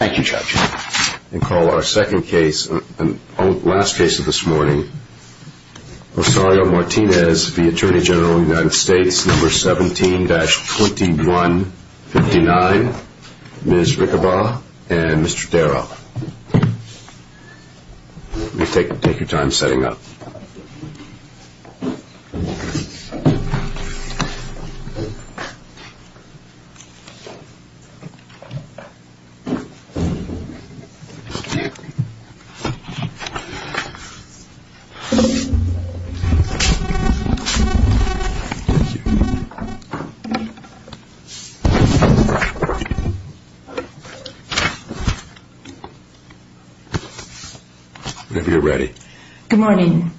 17-2159, Ms. Rickenbaugh, and Mr. Darrow. Mr. Darrow, will you take your time setting up? Good morning.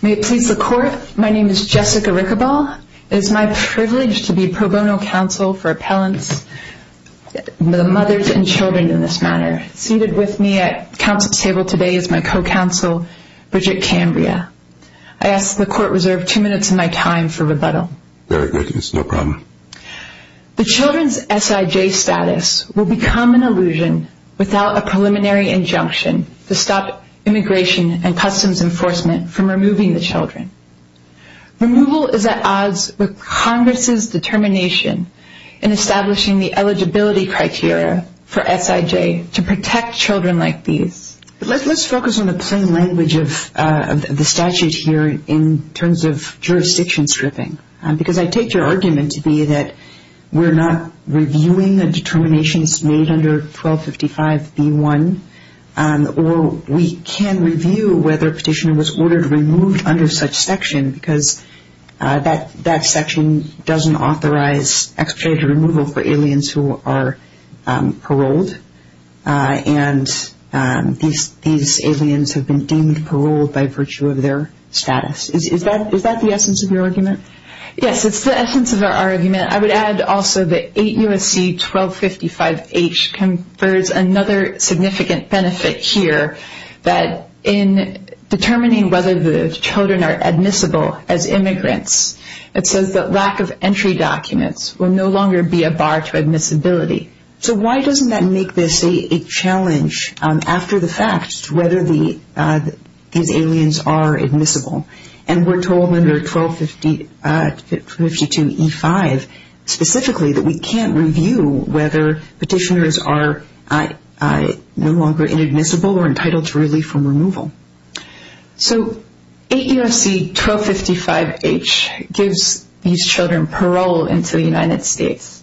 May it please the court, my name is Jessica Rickenbaugh. It is my privilege to be pro bono counsel for appellants, the mothers and children in this matter. Seated with me at counsel's table today is my co-counsel, Bridget Cambria. I ask the court reserve two minutes of my time for rebuttal. Very good. It's no problem. The children's S.I.J. status will become an illusion without a preliminary injunction to stop Immigration and Customs Enforcement from removing the children. Removal is at odds with Congress's determination in establishing the eligibility criteria for S.I.J. to protect children like these. Let's focus on the plain language of the statute here in terms of jurisdiction stripping. Because I take your argument to be that we're not reviewing the determinations made under 1255 B.1. Or we can review whether a petition was ordered removed under such section because that section doesn't authorize extra removal for aliens who are paroled. And these aliens have been deemed paroled by virtue of their status. Is that the essence of your argument? Yes, it's the essence of our argument. I would add also that 8 U.S.C. 1255H confers another significant benefit here that in determining whether the children are admissible as immigrants, it says that lack of entry documents will no longer be a bar to admissibility. So why doesn't that make this a challenge after the fact whether these aliens are admissible? And we're told under 1252 E.5 specifically that we can't review whether petitioners are no longer inadmissible or entitled to relief from removal. So 8 U.S.C. 1255H gives these children parole into the United States.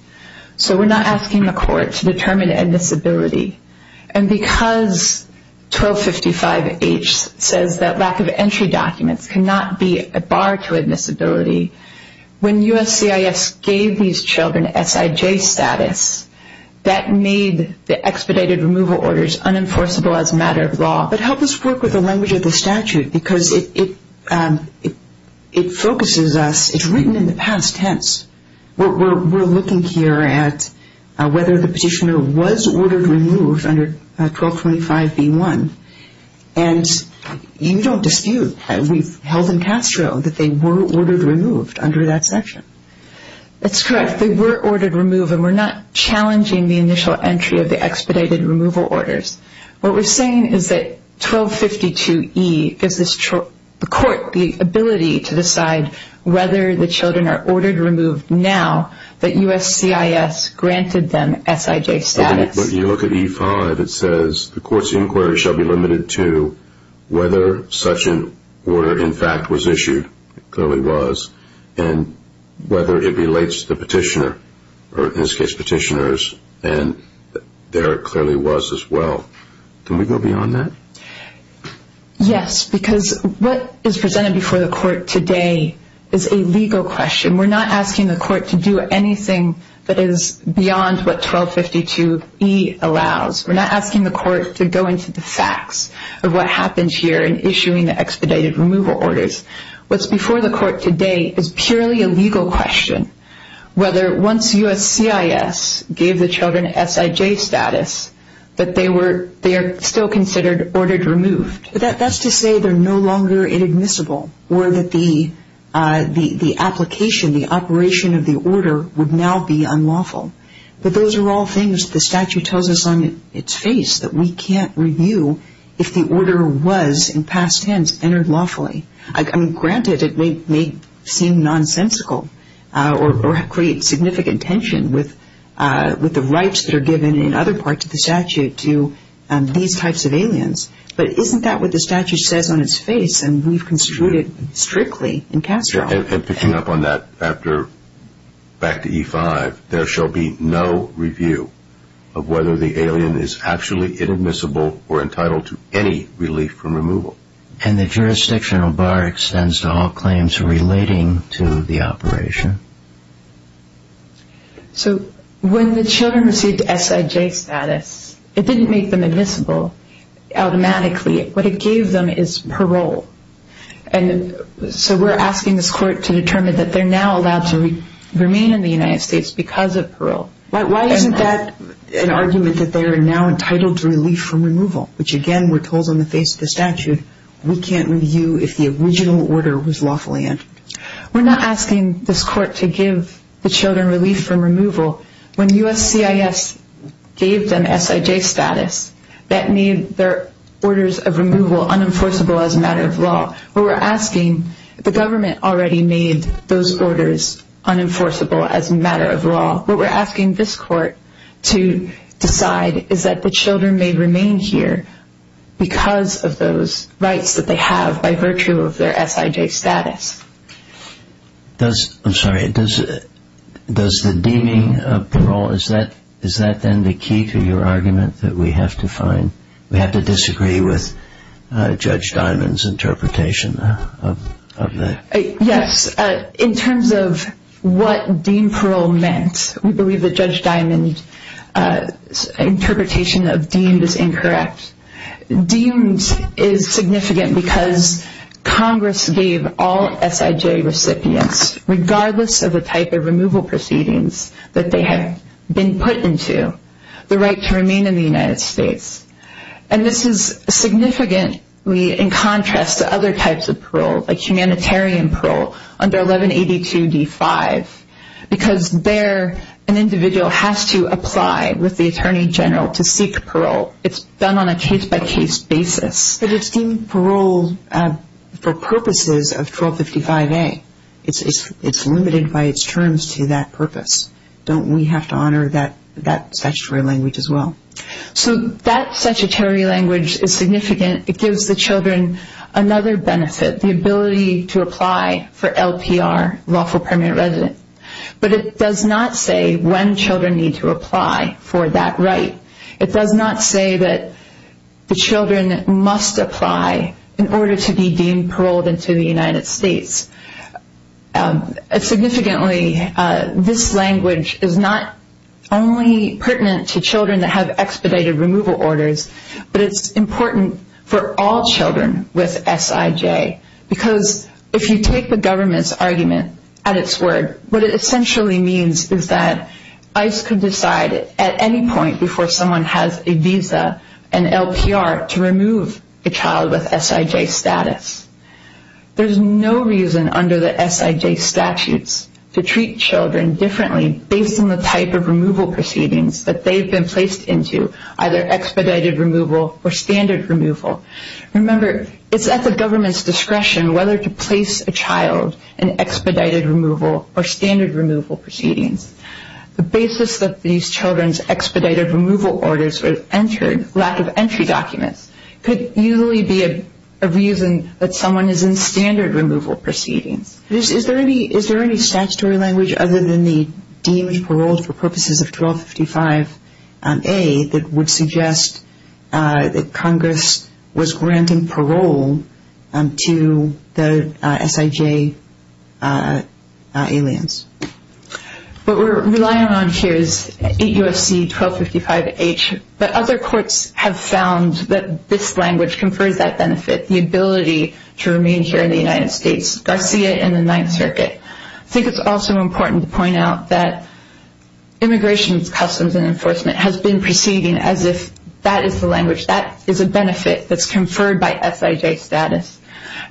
So we're not asking the court to determine admissibility. And because 1255H says that lack of entry documents cannot be a bar to admissibility, when USCIS gave these children S.I.J. status, that made the expedited removal orders unenforceable as a matter of law. But help us work with the language of the statute because it focuses us. It's written in the past tense. We're looking here at whether the petitioner was ordered removed under 1225 B.1. And you don't dispute. We've held in Castro that they were ordered removed under that section. That's correct. They were ordered removed, and we're not challenging the initial entry of the expedited removal orders. What we're saying is that 1252E gives the court the ability to decide whether the children are ordered removed now that USCIS granted them S.I.J. status. When you look at E.5, it says, the court's inquiry shall be limited to whether such an order, in fact, was issued. It clearly was. And whether it relates to the petitioner or, in this case, petitioners. And there it clearly was as well. Can we go beyond that? Yes, because what is presented before the court today is a legal question. We're not asking the court to do anything that is beyond what 1252E allows. We're not asking the court to go into the facts of what happened here in issuing the expedited removal orders. What's before the court today is purely a legal question. Whether once USCIS gave the children S.I.J. status, that they are still considered ordered removed. That's to say they're no longer inadmissible, or that the application, the operation of the order would now be unlawful. But those are all things the statute tells us on its face that we can't review if the order was, in past tense, entered lawfully. Granted, it may seem nonsensical or create significant tension with the rights that are given in other parts of the statute to these types of aliens. But isn't that what the statute says on its face? And we've construed it strictly in Castro. And picking up on that, back to E-5, there shall be no review of whether the alien is actually inadmissible or entitled to any relief from removal. And the jurisdictional bar extends to all claims relating to the operation. So, when the children received S.I.J. status, it didn't make them admissible automatically. What it gave them is parole. And so we're asking this court to determine that they're now allowed to remain in the United States because of parole. Why isn't that an argument that they're now entitled to relief from removal? Which, again, we're told on the face of the statute, we can't review if the original order was lawfully entered. We're not asking this court to give the children relief from removal. When U.S.C.I.S. gave them S.I.J. status, that made their orders of removal unenforceable as a matter of law. But we're asking, the government already made those orders unenforceable as a matter of law. What we're asking this court to decide is that the children may remain here because of those rights that they have by virtue of their S.I.J. status. I'm sorry. Does the deeming of parole, is that then the key to your argument that we have to find? We have to disagree with Judge Diamond's interpretation of that. Yes. In terms of what deemed parole meant, we believe that Judge Diamond's interpretation of deemed is incorrect. Deemed is significant because Congress gave all S.I.J. recipients, regardless of the type of removal proceedings that they had been put into, the right to remain in the United States. And this is significant in contrast to other types of parole, like humanitarian parole under 1182D5. Because there, an individual has to apply with the Attorney General to seek parole. It's done on a case-by-case basis. But it's deemed parole for purposes of 1255A. It's limited by its terms to that purpose. Don't we have to honor that statutory language as well? So that statutory language is significant. It gives the children another benefit, the ability to apply for LPR, lawful permanent residence. But it does not say when children need to apply for that right. It does not say that the children must apply in order to be deemed paroled into the United States. Significantly, this language is not only pertinent to children that have expedited removal orders, but it's important for all children with S.I.J. Because if you take the government's argument at its word, what it essentially means is that ICE could decide at any point before someone has a visa, an LPR, to remove a child with S.I.J. status. There's no reason under the S.I.J. statutes to treat children differently based on the type of removal proceedings that they've been placed into, either expedited removal or standard removal. Remember, it's at the government's discretion whether to place a child in expedited removal or standard removal proceedings. The basis of these children's expedited removal orders or lack of entry documents could usually be a reason that someone is in standard removal proceedings. Is there any statutory language other than the deemed paroled for purposes of 1255A that would suggest that Congress was granting parole to the S.I.J. aliens? What we're relying on here is 8 U.S.C. 1255H. But other courts have found that this language conferred that benefit, the ability to remain here in the United States, Garcia and the Ninth Circuit. I think it's also important to point out that Immigration Customs and Enforcement has been proceeding as if that is the language, that is a benefit that's conferred by S.I.J. status.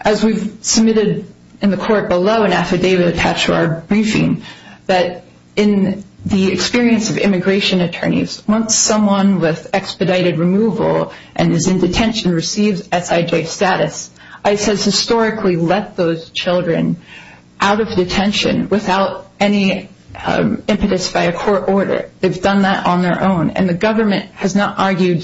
As we've submitted in the court below an affidavit attached to our briefing, that in the experience of immigration attorneys, once someone with expedited removal and is in detention receives S.I.J. status, ICE has historically let those children out of detention without any impetus by a court order. They've done that on their own, and the government has not argued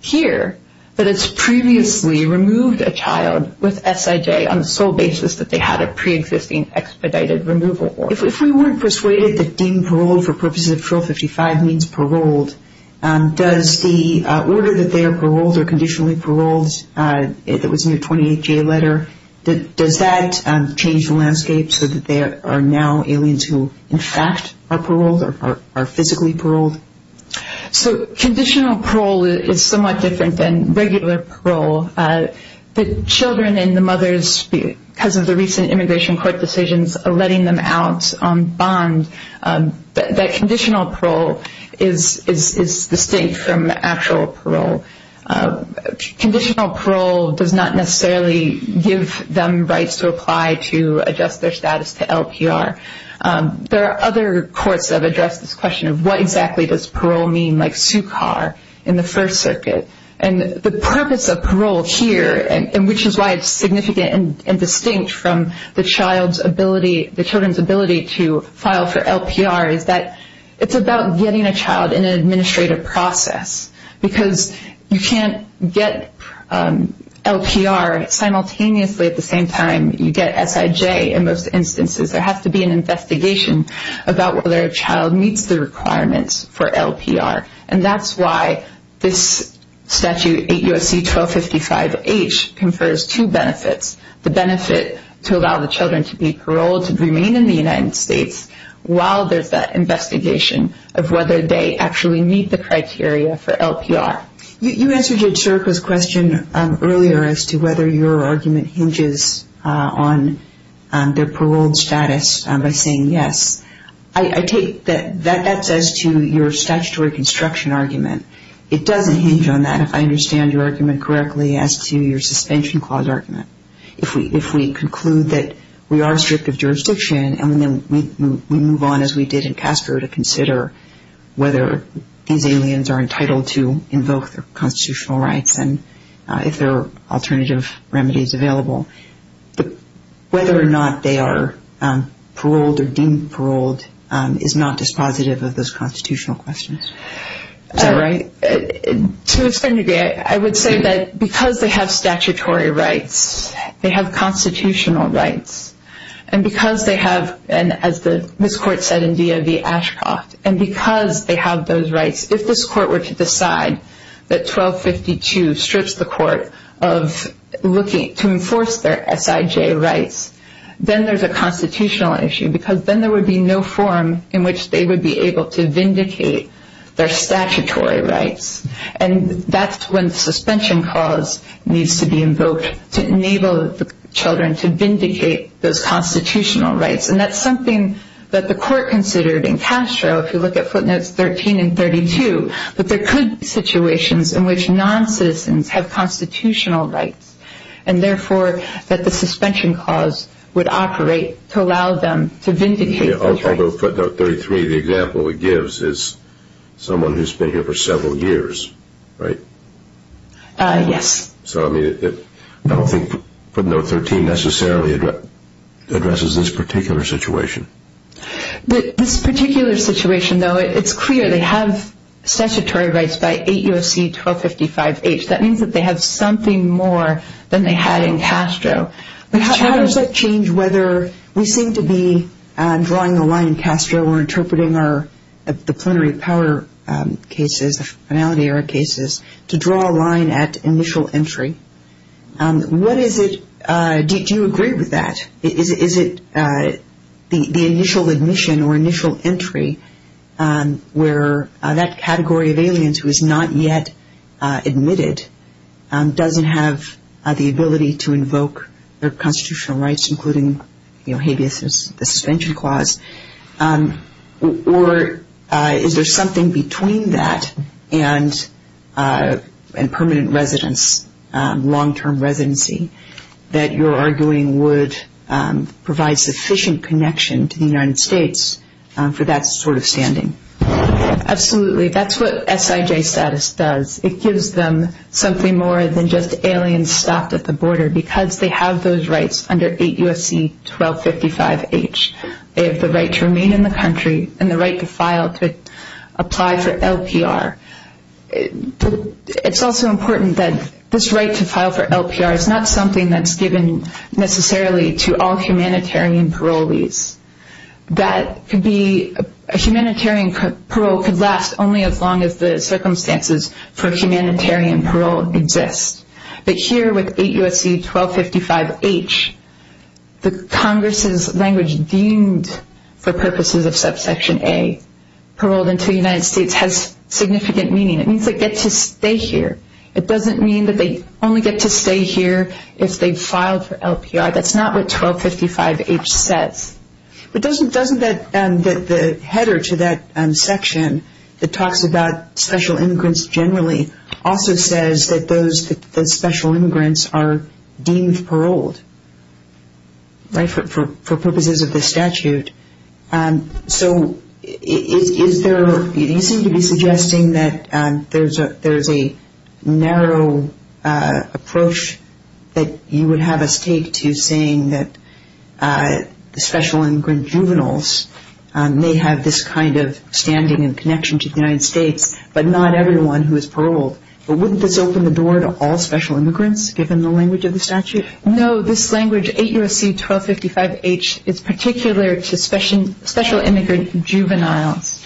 here that it's previously removed a child with S.I.J. on the sole basis that they had a pre-existing expedited removal order. If we weren't persuaded that being paroled for purposes of 1255 means paroled, does the order that they are paroled or conditionally paroled, if it was in the 28-J letter, does that change the landscape so that they are now aliens who in fact are paroled or are physically paroled? So conditional parole is somewhat different than regular parole. The children and the mothers, because of the recent immigration court decisions, are letting them out on bond. That conditional parole is distinct from actual parole. Conditional parole does not necessarily give them rights to apply to adjust their status to LPR. There are other courts that have addressed this question of what exactly does parole mean, like SUCAR in the First Circuit. The purpose of parole here, which is why it's significant and distinct from the children's ability to file for LPR, is that it's about getting a child in an administrative process because you can't get LPR simultaneously at the same time you get S.I.J. in most instances. There has to be an investigation about whether a child meets the requirements for LPR. And that's why this statute, 8 U.S.C. 1255H, confers two benefits, the benefit to allow the children to be paroled and remain in the United States while there's that investigation of whether they actually meet the criteria for LPR. You answered your historical question earlier as to whether your argument hinges on their paroled status by saying yes. I take that that's as to your statutory construction argument. It doesn't hinge on that if I understand your argument correctly as to your suspension clause argument. If we conclude that we are strict of jurisdiction and we move on as we did in CASPER to consider whether these aliens are entitled to invoke their constitutional rights and if there are alternative remedies available, whether or not they are paroled or deemed paroled is not dispositive of those constitutional questions. To a certain degree, I would say that because they have statutory rights, they have constitutional rights, and because they have, as this court said in DOV-Ashcroft, and because they have those rights, if this court were to decide that 1252 strips the court of looking to enforce their SIJ rights, then there's a constitutional issue because then there would be no forum in which they would be able to vindicate their statutory rights. That's when the suspension clause needs to be invoked to enable the children to vindicate those constitutional rights. That's something that the court considered in Castro, if you look at footnotes 13 and 32, that there could be situations in which noncitizens have constitutional rights, and therefore that the suspension clause would operate to allow them to vindicate those rights. Although footnote 33, the example it gives is someone who's been here for several years, right? Yes. So I don't think footnote 13 necessarily addresses this particular situation. This particular situation, though, it's clear they have statutory rights by 8 U.S.C. 1255-H. That means that they have something more than they had in Castro. But how does that change whether we seem to be drawing the line in Castro or interpreting the plenary power cases, the finality of our cases, to draw a line at initial entry? What is it, do you agree with that? Is it the initial admission or initial entry where that category of aliens who is not yet admitted doesn't have the ability to invoke their constitutional rights, including the suspension clause? Or is there something between that and permanent residence, long-term residency, that you're arguing would provide sufficient connection to the United States for that sort of standing? Absolutely. That's what SIJ status does. It gives them something more than just aliens stopped at the border because they have those rights under 8 U.S.C. 1255-H. They have the right to remain in the country and the right to file to apply for LPR. It's also important that this right to file for LPR is not something that's given necessarily to all humanitarian parolees. A humanitarian parole could last only as long as the circumstances for humanitarian parole exist. But here with 8 U.S.C. 1255-H, the Congress' language deemed for purposes of subsection A, paroled until United States has significant meaning. It means they get to stay here. It doesn't mean that they only get to stay here if they file for LPR. That's not what 1255-H says. But doesn't the header to that section that talks about special immigrants generally also says that those special immigrants are deemed paroled for purposes of the statute? So you seem to be suggesting that there's a narrow approach that you would have us take to saying that the special immigrant juveniles may have this kind of standing and connection to the United States, but not everyone who is paroled. But wouldn't this open the door to all special immigrants given the language of the statute? No, this language, 8 U.S.C. 1255-H, is particular to special immigrant juveniles.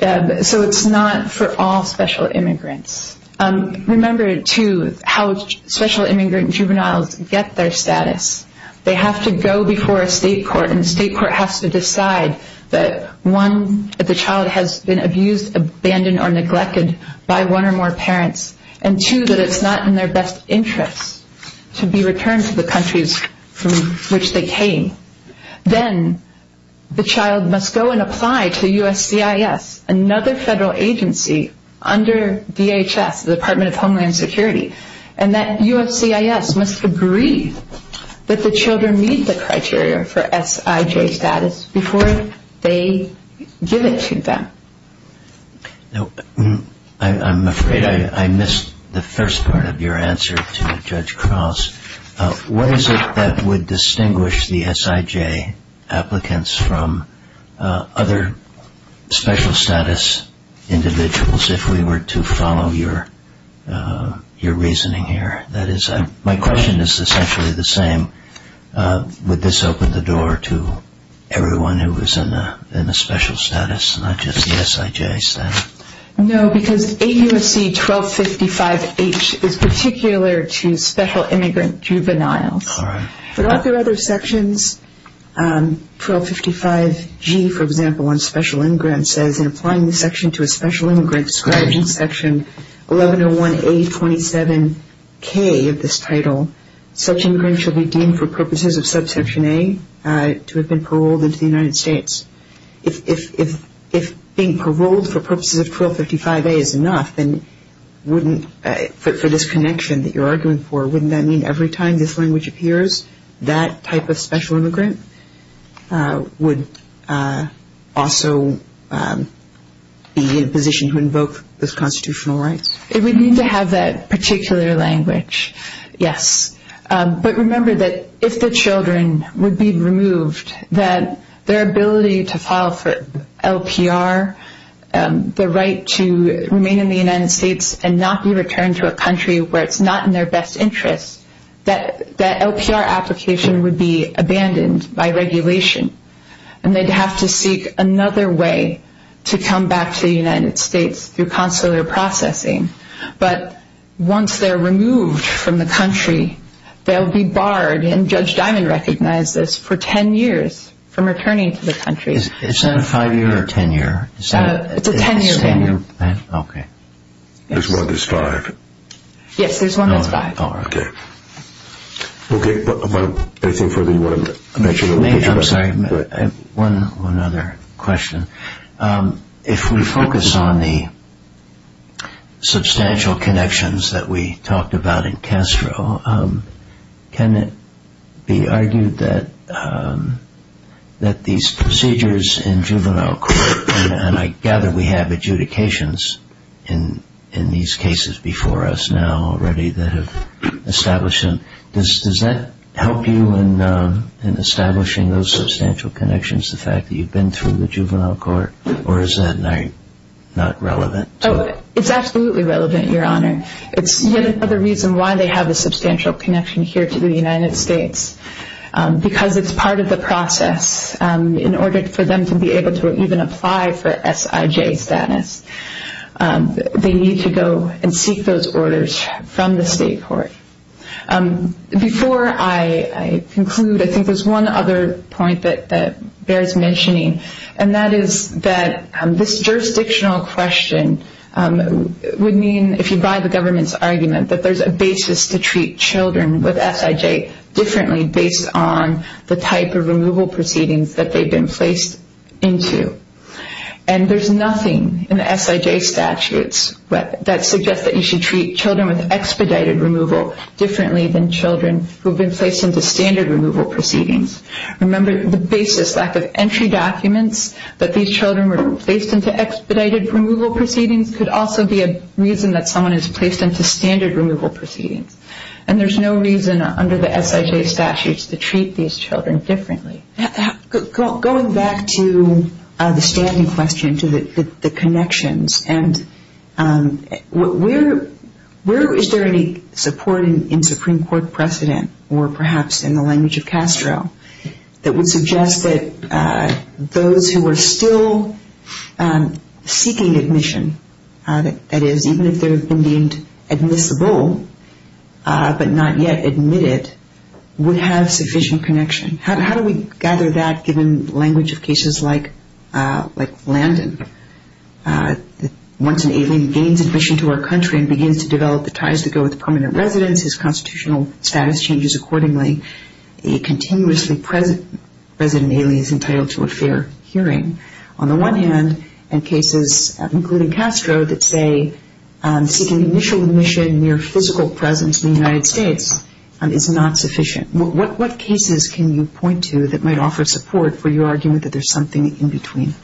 So it's not for all special immigrants. Remember, too, how special immigrant juveniles get their status. They have to go before a state court, and the state court has to decide that, one, that the child has been abused, abandoned, or neglected by one or more parents, and, two, that it's not in their best interest to be returned to the countries from which they came. Then the child must go and apply to USCIS, another federal agency under DHS, the Department of Homeland Security, and that USCIS must agree that the children meet the criteria for SIJ status before they give it to them. Now, I'm afraid I missed the first part of your answer to Judge Cross. What is it that would distinguish the SIJ applicants from other special status individuals if we were to follow your reasoning here? That is, my question is essentially the same. Would this open the door to everyone who is in a special status and not just the SIJ status? No, because AUSC 1255-H is particular to special immigrant juveniles. But are there other sections? 1255-G, for example, on special immigrants says, in applying the section to a special immigrant, described in Section 1101-A27-K of this title, such immigrants shall be deemed for purposes of Subsection A to have been paroled into the United States. If being paroled for purposes of 1255-A is enough, then wouldn't the disconnection that you're arguing for, wouldn't that mean every time this language appears, that type of special immigrant would also be in a position to invoke those constitutional rights? It would mean to have that particular language, yes. But remember that if the children would be removed, that their ability to file for LPR, the right to remain in the United States and not be returned to a country where it's not in their best interest, that LPR application would be abandoned by regulation and they'd have to seek another way to come back to the United States through consular processing. But once they're removed from the country, they'll be barred, and Judge Diamond recognized this, for 10 years from returning to the country. Is that a 5-year or 10-year? It's a 10-year thing. It's a 10-year thing? Okay. There's one that's 5? Yes, there's one that's 5. Okay. Okay, but I think further you wanted to mention. I'm sorry. Go ahead. One other question. If we focus on the substantial connections that we talked about in Castro, can it be argued that these procedures in juvenile court, and I gather we have adjudications in these cases before us now already that have established them. Does that help you in establishing those substantial connections, the fact that you've been through the juvenile court, or is that not relevant? It's absolutely relevant, Your Honor. It's yet another reason why they have a substantial connection here to the United States, because it's part of the process. In order for them to be able to even apply for SIJ status, they need to go and seek those orders from the state court. Before I conclude, I think there's one other point that bears mentioning, and that is that this jurisdictional question would mean, if you buy the government's argument, that there's a basis to treat children with SIJ differently based on the type of removal proceedings that they've been placed into. And there's nothing in the SIJ statutes that suggests that you should treat children with expedited removal differently than children who have been placed into standard removal proceedings. Remember, the basis, the fact that entry documents, that these children were placed into expedited removal proceedings, could also be a reason that someone is placed into standard removal proceedings. And there's no reason under the SIJ statutes to treat these children differently. Going back to the standing question, to the connections, and where is there any support in Supreme Court precedent, or perhaps in the language of Castro, that would suggest that those who are still seeking admission, that is, even if they've been deemed admissible but not yet admitted, would have sufficient connection. How do we gather that, given the language of cases like Landon? Once an alien gains admission to our country and begins to develop the ties that go with permanent residence, his constitutional status changes accordingly, a continuously present alien is entitled to a fair hearing. On the one hand, in cases, including Castro, that say seeking initial admission near physical presence in the United States is not sufficient. What cases can you point to that might offer support for your argument that there's something in between?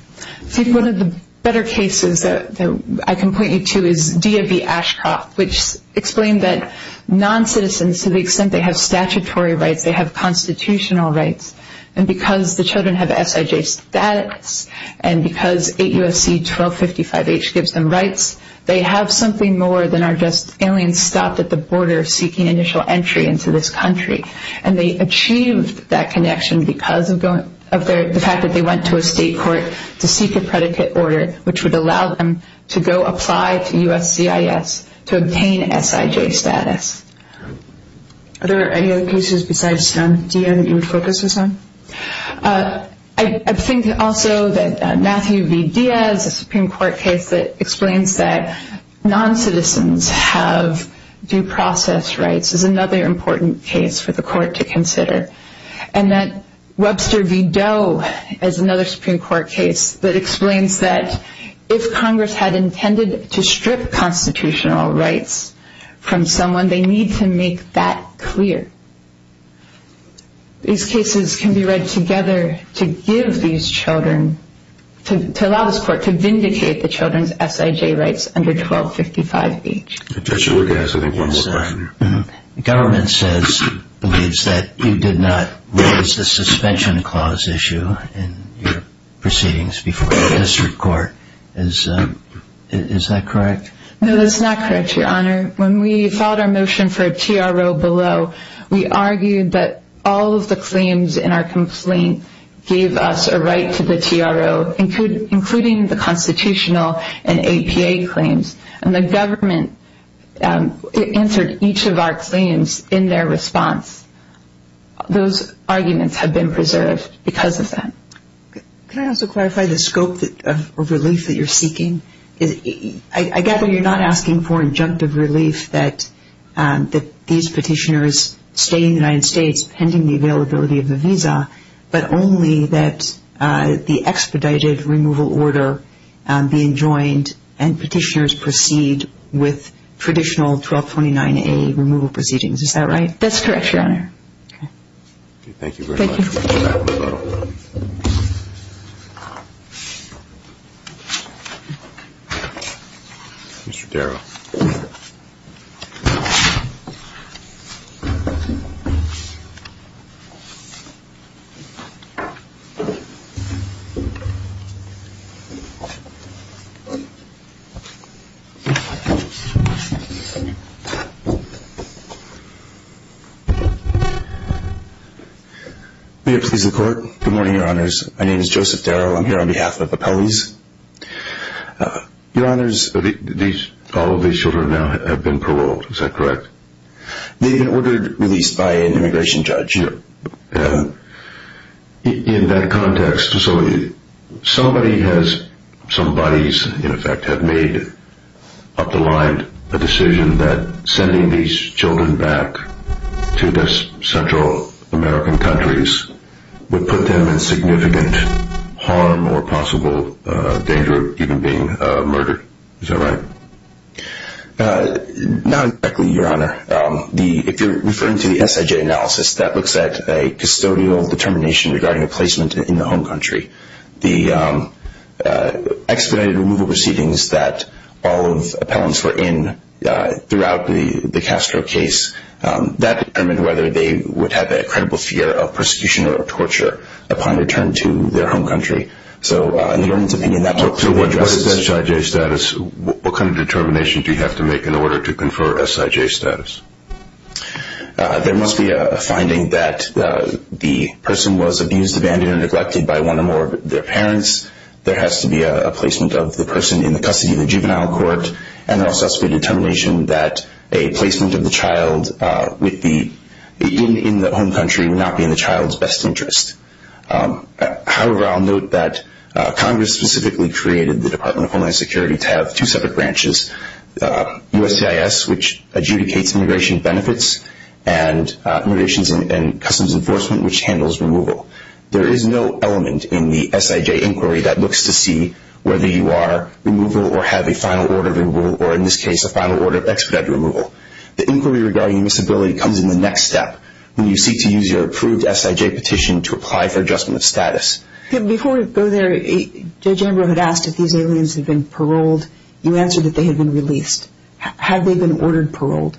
One of the better cases that I can point you to is DAV Ashcroft, which explained that non-citizens, to the extent they have statutory rights, they have constitutional rights, and because the children have SIJ status, and because 8 U.S.C. 1255H gives them rights, they have something more than our just alien stopped at the border seeking initial entry into this country. And they achieved that connection because of the fact that they went to a state court to seek a predicate order, which would allow them to go apply to USCIS to obtain SIJ status. Are there any other cases besides this one you would focus on? I think also that Matthew V. Diaz, a Supreme Court case that explains that non-citizens have due process rights, is another important case for the court to consider. And that Webster v. Doe is another Supreme Court case that explains that if Congress had intended to strip constitutional rights from someone, they need to make that clear. These cases can be read together to give these children, to allow this court to vindicate the children's SIJ rights under 1255H. The government believes that you did not raise the suspension clause issue in proceedings before the district court. Is that correct? No, that's not correct, Your Honor. When we filed our motion for a TRO below, we argued that all of the claims in our complaint gave us a right to the TRO, including the constitutional and APA claims. And the government answered each of our claims in their response. Those arguments have been preserved because of that. Could I also clarify the scope of relief that you're seeking? I gather you're not asking for injunctive relief that these petitioners stay in the United States pending the availability of the visa, but only that the expedited removal order be enjoined and petitioners proceed with traditional 1229A removal proceedings. Is that right? That's correct, Your Honor. Thank you. Thank you. Mr. Darrow. Good morning, Your Honors. My name is Joseph Darrow. I'm here on behalf of Appellees. Your Honors, all of these children have now been paroled. Is that correct? They've been ordered released by an immigration judge. In that context, somebody has, some bodies, in effect, have made up the line a decision that sending these children back to the Central American countries would put them in significant harm or possible danger of even being murdered. Is that right? Not exactly, Your Honor. If you're referring to the SIJ analysis, that looks at a custodial determination regarding a placement in the home country. The expedited removal proceedings that all of appellants were in throughout the Castro case, that determined whether they would have that credible fear of persecution or torture upon return to their home country. What is that SIJ status? What kind of determination do you have to make in order to confer SIJ status? There must be a finding that the person was abused, abandoned, and neglected by one or more of their parents. There has to be a placement of the person in the custody of a juvenile court. And there must also be a determination that a placement of the child in the home country would not be in the child's best interest. However, I'll note that Congress specifically created the Department of Homeland Security to have two separate branches, USCIS, which adjudicates immigration benefits, and Immigration and Customs Enforcement, which handles removal. There is no element in the SIJ inquiry that looks to see whether you are removal or have a final order of removal, or in this case, a final order of expedited removal. The inquiry regarding this ability comes in the next step, when you seek to use your approved SIJ petition to apply for adjustment status. Before we go there, Judge Amber had asked if these aliens had been paroled. You answered that they had been released. Had they been ordered paroled?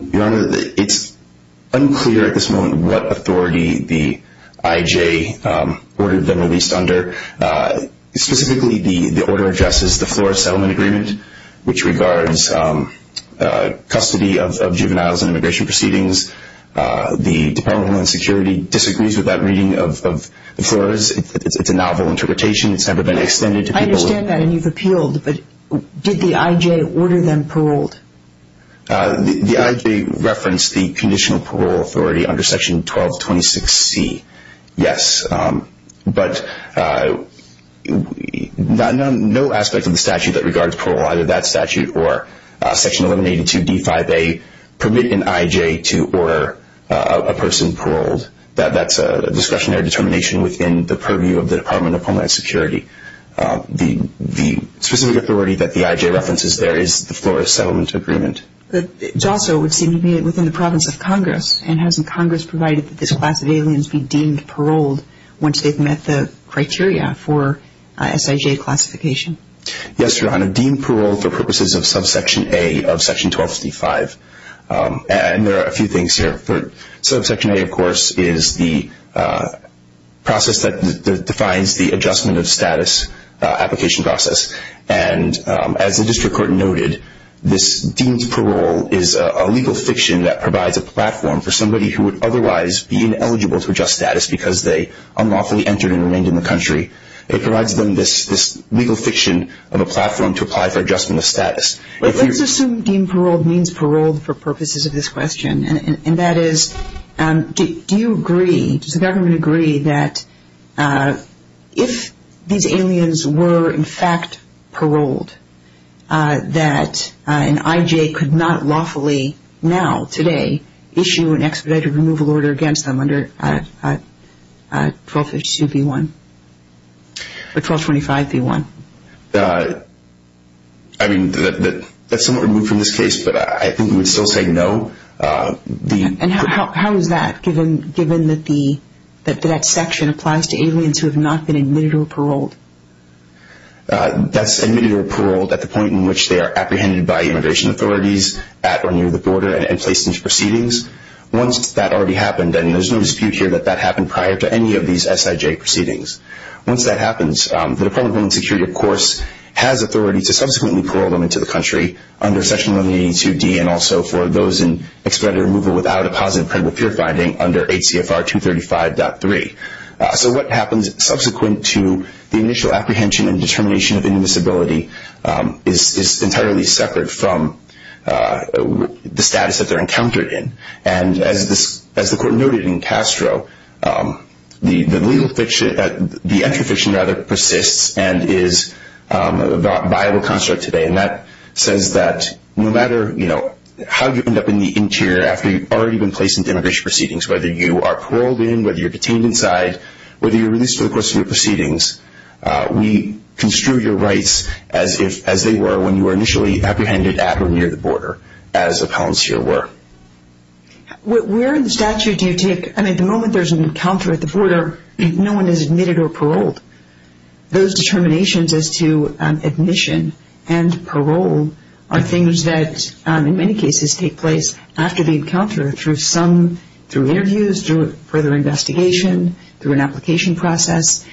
Your Honor, it's unclear at this moment what authority the IJ ordered them to be released under. Specifically, the order addresses the Flores Settlement Agreement, which regards custody of juveniles in immigration proceedings. The Department of Homeland Security disagrees with that reading of the Flores. It's a novel interpretation. It's never been extended to people. I understand that, and you've appealed, but did the IJ order them paroled? The IJ referenced the conditional parole authority under Section 1226C, yes. But no aspect of the statute that regards parole, either that statute or Section 1182D5A, permit an IJ to order a person paroled. That's a discussionary determination within the purview of the Department of Homeland Security. The specific authority that the IJ references there is the Flores Settlement Agreement. But it's also within the province of Congress, and hasn't Congress provided that this class of aliens be deemed paroled once they've met the criteria for SIJ classification? Yes, Your Honor, deemed paroled for purposes of Subsection A of Section 1265. And there are a few things here. Subsection A, of course, is the process that defines the adjustment of status application process. And as the district court noted, this deemed parole is a legal fiction that provides a platform for somebody who would otherwise be ineligible for just status because they unlawfully entered and remained in the country. It provides them this legal fiction of a platform to apply for adjustment of status. What does this deem paroled means paroled for purposes of this question? And that is, do you agree, does the government agree that if these aliens were in fact paroled, that an IJ could not lawfully now, today, issue an expedited removal order against them under 1252B1, the 1225B1? I mean, that's somewhat removed from this case, but I think we would still say no. And how is that, given that that section applies to aliens who have not been admitted or paroled? That's admitted or paroled at the point in which they are apprehended by immigration authorities at or near the border and placed into proceedings. Once that already happened, then there's no dispute here that that happened prior to any of these SIJ proceedings. Once that happens, the Department of Homeland Security, of course, has authority to subsequently parole them into the country under Section 182D and also for those in expedited removal without a positive criminal peer finding under ACFR 235.3. So what happens subsequent to the initial apprehension and determination of any disability is entirely separate from the status that they're encountered in. And as the Court noted in Castro, the legal fiction, the entry fiction rather, persists and is a viable construct today. And that says that no matter, you know, how you end up in the interior after you've already been placed into immigration proceedings, whether you are paroled in, whether you're detained inside, whether you're released for the course of your proceedings, we construe your rights as they were when you were initially apprehended at or near the border, as a concierge were. Where in statute do you take, I mean, the moment there's an encounter at the border, no one is admitted or paroled. Those determinations as to admission and parole are things that, in many cases, take place after the encounter, through some, through interviews, through further investigation, through an application process.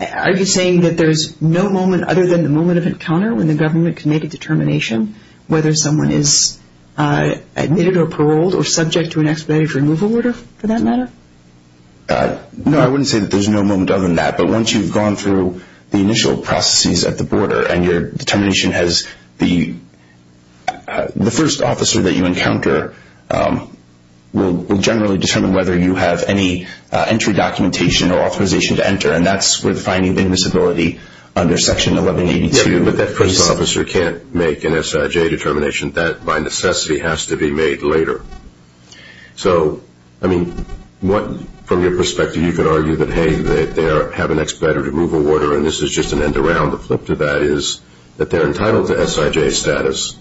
Are you saying that there's no moment other than the moment of encounter when the government can make a determination whether someone is admitted or paroled or subject to an expedited removal order for that matter? No, I wouldn't say that there's no moment other than that. But once you've gone through the initial processes at the border and your determination has the first officer that you encounter, we'll generally determine whether you have any entry documentation or authorization to enter, and that's with finding invisibility under Section 1182. But that first officer can't make an SIJ determination. That, by necessity, has to be made later. So, I mean, what, from your perspective, you could argue that, hey, they have an expedited removal order, and this is just an end-to-round, the flip to that is that they're entitled to SIJ status,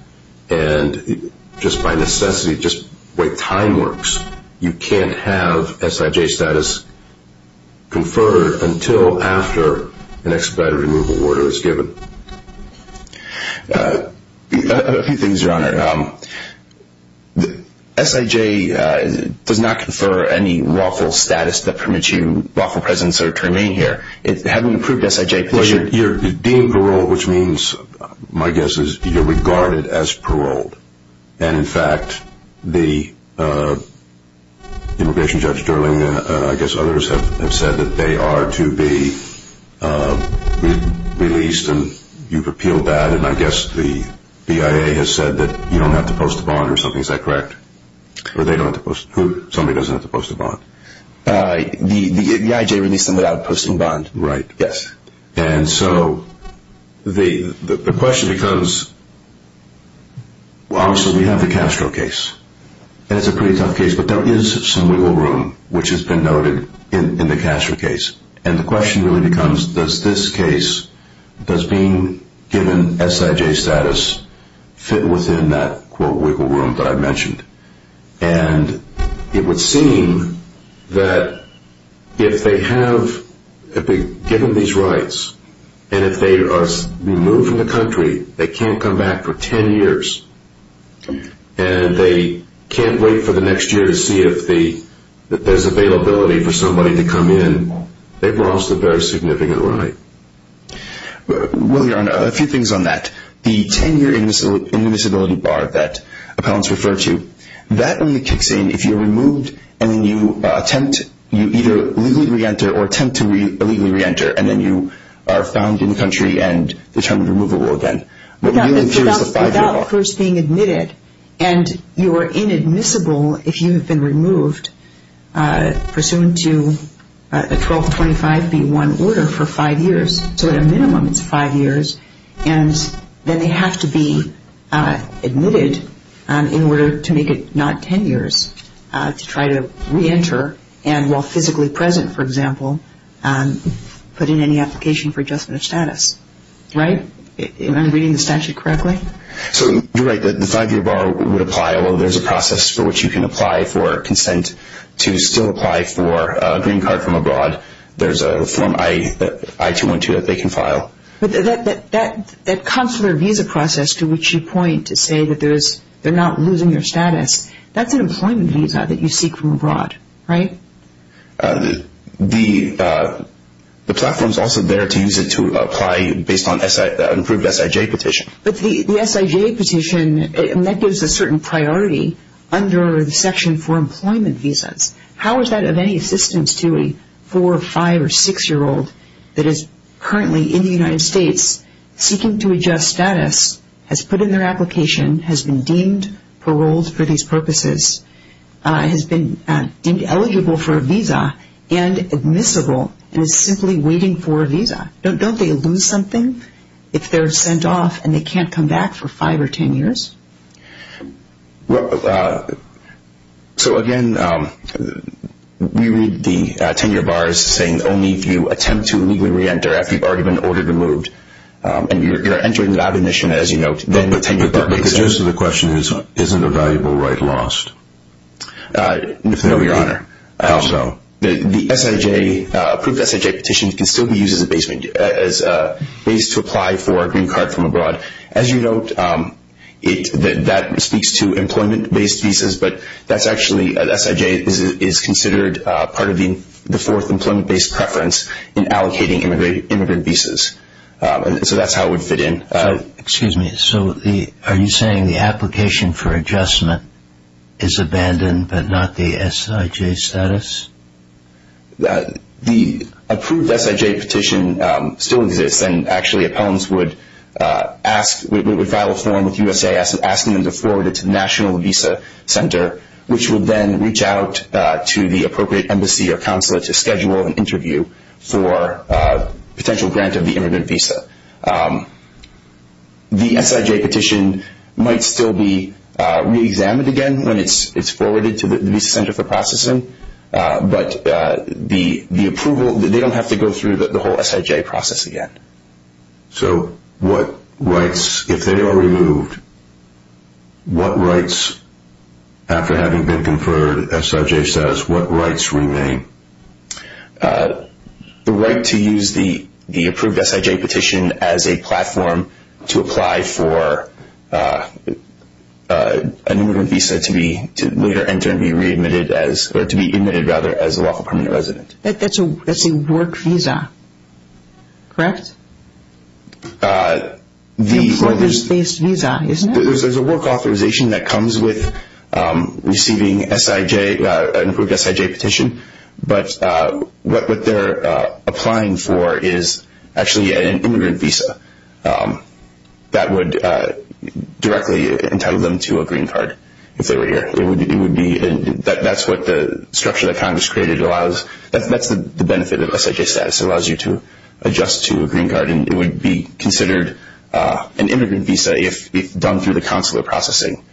and just by necessity, just the way time works, you can't have SIJ status conferred until after an expedited removal order is given. A few things, Your Honor. SIJ does not confer any lawful status that permits you lawful presence or to remain here. Well, you're deemed paroled, which means, my guess is, you're regarded as paroled. And, in fact, the immigration judge, I guess others have said that they are to be released, and you've repealed that. And I guess the BIA has said that you don't have to post a bond or something. Is that correct? Somebody doesn't have to post a bond. The IJ released them without a posting bond. Right. Yes. And so the question becomes, well, obviously, we have the Castro case, and it's a pretty tough case, but there is some wiggle room, which has been noted in the Castro case. And the question really becomes, does this case, does being given SIJ status, fit within that, quote, wiggle room that I mentioned? And it would seem that if they have, if they've given these rights, and if they are removed from the country, they can't come back for 10 years, and they can't wait for the next year to see if there's availability for somebody to come in. They've lost a very significant right. Well, Your Honor, a few things on that. The 10-year inadmissibility bar that accounts refer to, that only kicks in if you're removed and then you attempt, you either legally reenter or attempt to illegally reenter, and then you are found in the country and determined removable again. Without first being admitted, and you are inadmissible if you have been removed, pursuant to a 1225B1 order for five years, so a minimum of five years, and then they have to be admitted in order to make it not 10 years to try to reenter, and while physically present, for example, put in any application for adjustment of status. Right? Am I reading the statute correctly? So you're right. The five-year bar would apply, although there's a process for which you can apply for consent to still apply for a green card from abroad. There's a Form I-212 that they can file. But that consular visa process to which you point to say that they're not losing your status, that's an employment visa that you seek from abroad, right? The platform's also there to use it to apply based on an approved SIJ petition. But the SIJ petition, and that gives a certain priority under Section 4 employment visas. How is that of any assistance to a four-, five-, or six-year-old that is currently in the United States seeking to adjust status, has put in their application, has been deemed paroled for these purposes, has been eligible for a visa, and admissible, and is simply waiting for a visa? Don't they lose something if they're sent off and they can't come back for five or ten years? Well, so again, we read the ten-year bar as saying only if you attempt to legally re-enter after you've already been ordered to move. And you're entering that admission, as you note, then the ten-year bar exists. The gist of the question is, isn't a valuable right lost? No, Your Honor. The approved SIJ petition can still be used as a base to apply for a green card from abroad. As you note, that speaks to employment-based visas, but that's actually, the SIJ is considered part of the fourth employment-based preference in allocating immigrant visas. So that's how it would fit in. Excuse me. So are you saying the application for adjustment is abandoned but not the SIJ status? The approved SIJ petition still exists, and actually appellants would file a form with USAID asking them to forward it to the National Visa Center, which would then reach out to the appropriate embassy or consulate to schedule an interview for a potential grant of the immigrant visa. The SIJ petition might still be re-examined again when it's forwarded to the Visa Center for processing, but the approval, they don't have to go through the whole SIJ process again. So what rights, if they are removed, what rights, after having been conferred SIJ status, what rights remain? The right to use the approved SIJ petition as a platform to apply for an immigrant visa to be later entered and be re-admitted as, or to be admitted, rather, as a local permanent resident. That's a work visa, correct? Employment-based visa, isn't it? There's a work authorization that comes with receiving an approved SIJ petition, but what they're applying for is actually an immigrant visa that would directly entitle them to a green card, if they were here. That's what the structure that Congress created allows. That's the benefit of SIJ status. It allows you to adjust to a green card, and it would be considered an immigrant visa if done through the Council of Processing,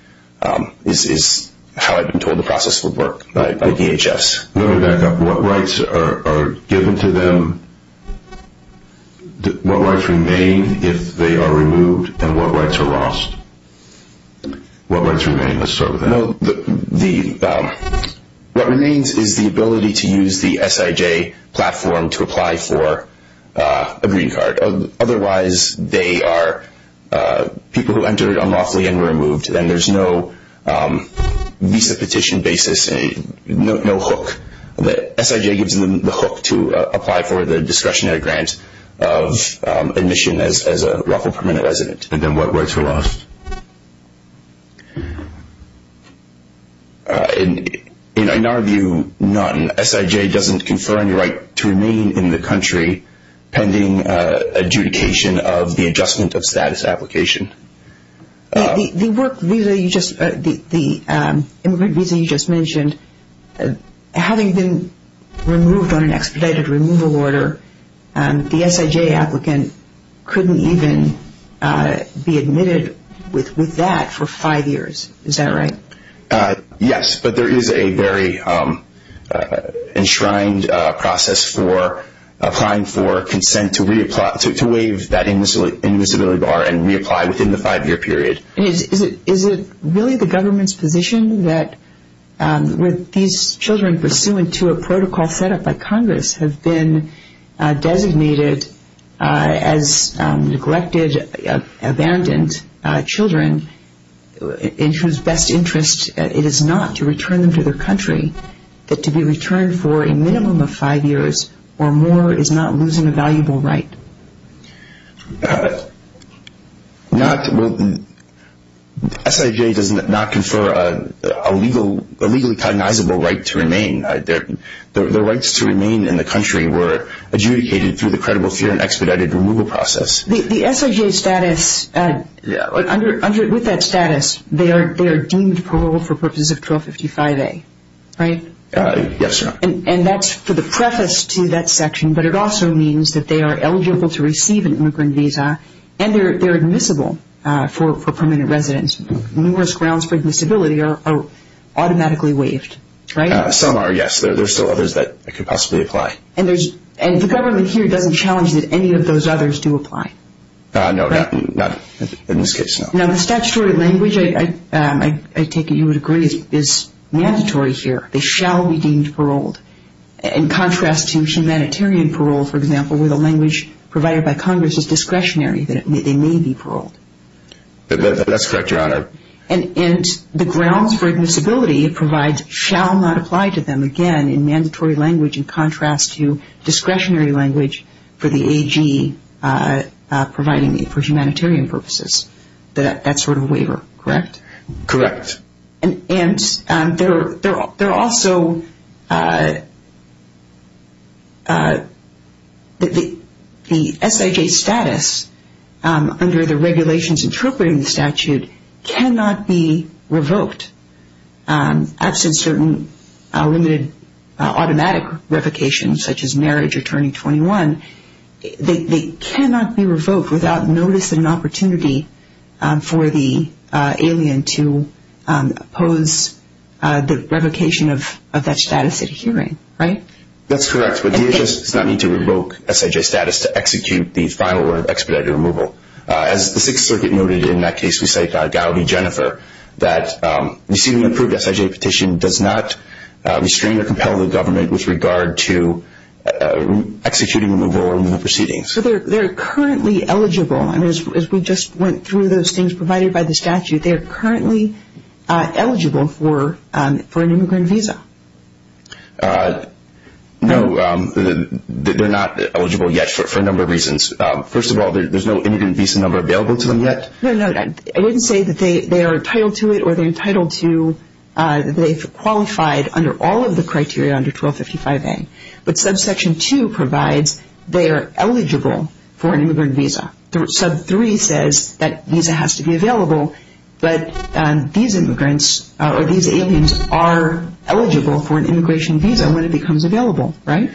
is how I've been told the process would work by DHS. Let me back up. What rights are given to them? What rights remain if they are removed, and what rights are lost? What rights remain, let's start with that. What remains is the ability to use the SIJ platform to apply for a green card. Otherwise, they are people who entered unlawfully and were removed, and there's no visa petition basis, no hook. SIJ gives them the hook to apply for the discretionary grant of admission as a local permanent resident, and then what rights are lost? In our view, none. SIJ doesn't confer any right to remain in the country pending adjudication of the adjustment of status application. The immigrant visa you just mentioned, having been removed on an expedited removal order, the SIJ applicant couldn't even be admitted with that for five years. Is that right? Yes, but there is a very enshrined process for applying for consent to waive that immutability bar and reapply within the five-year period. Is it really the government's position that with these children pursuant to a protocol set up by Congress have been designated as neglected, abandoned children in whose best interest it is not to return them to their country, but to be returned for a minimum of five years or more is not losing a valuable right? SIJ does not confer a legally cognizable right to remain. Their rights to remain in the country were adjudicated through the credible fear and expedited removal process. The SIJ status, with that status, they are deemed paroled for purposes of 1255A, right? Yes. And that's for the preface to that section, but it also means that they are eligible to receive an immigrant visa and they're admissible for permanent residence. Numerous grounds for admissibility are automatically waived, right? Some are, yes. There are still others that could possibly apply. And the government here doesn't challenge that any of those others do apply? No, not in this case, no. Now, the statutory language, I take it you would agree, is mandatory here. They shall be deemed paroled. In contrast to humanitarian parole, for example, where the language provided by Congress is discretionary that they may be paroled. That's correct, Your Honor. And the grounds for admissibility it provides shall not apply to them, again, in mandatory language in contrast to discretionary language for the AG providing them for humanitarian purposes. That sort of waiver, correct? Correct. And there are also the SIJ status under the regulations interpreting the statute cannot be revoked. I've seen certain limited automatic revocations, such as Marriage Attorney 21. They cannot be revoked without notice and opportunity for the alien to oppose the revocation of that status at hearing, right? That's correct. But DHS does not need to revoke SIJ status to execute the final or expedited removal. As the Sixth Circuit noted in that case, we cite Gowdy and Jennifer, that receiving an approved SIJ petition does not restrain or compel the government with regard to executing removal or removal proceedings. So they're currently eligible. I mean, as we just went through those things provided by the statute, they are currently eligible for an immigrant visa. No, they're not eligible yet for a number of reasons. First of all, there's no immigrant visa number available to them yet. No, no. I didn't say that they are entitled to it or they're entitled to that they've qualified under all of the criteria under 1255A. But Subsection 2 provides they are eligible for an immigrant visa. Sub 3 says that visa has to be available, but these immigrants or these aliens are eligible for an immigration visa when it becomes available, right?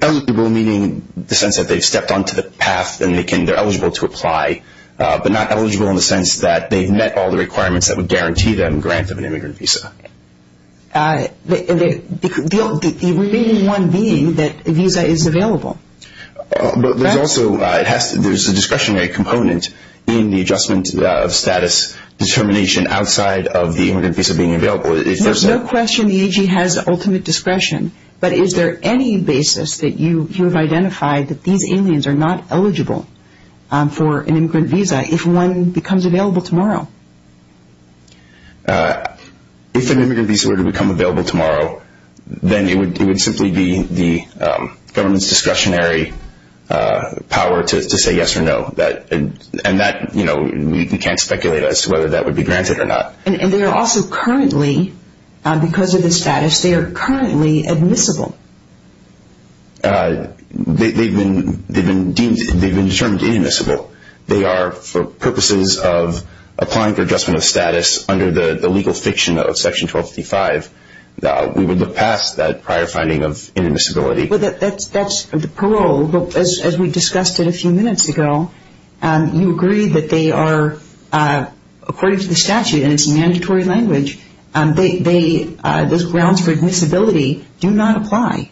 Eligible meaning the sense that they've stepped onto the path and they're eligible to apply, but not eligible in the sense that they've met all the requirements that would guarantee them grants of an immigrant visa. The only one being that the visa is available. But there's also a discretionary component in the adjustment of status determination outside of the immigrant visa being available. There's no question the AG has ultimate discretion, but is there any basis that you have identified that these aliens are not eligible for an immigrant visa if one becomes available tomorrow? If an immigrant visa were to become available tomorrow, then it would simply be the government's discretionary power to say yes or no. And that, you know, we can't speculate as to whether that would be granted or not. And they are also currently, because of their status, they are currently admissible. They've been deemed, they've been determined inadmissible. They are for purposes of applying for adjustment of status under the legal fiction of Section 1255. We would look past that prior finding of inadmissibility. That's the parole. As we discussed it a few minutes ago, you agree that they are, according to the statute, and it's a mandatory language, those grounds for admissibility do not apply.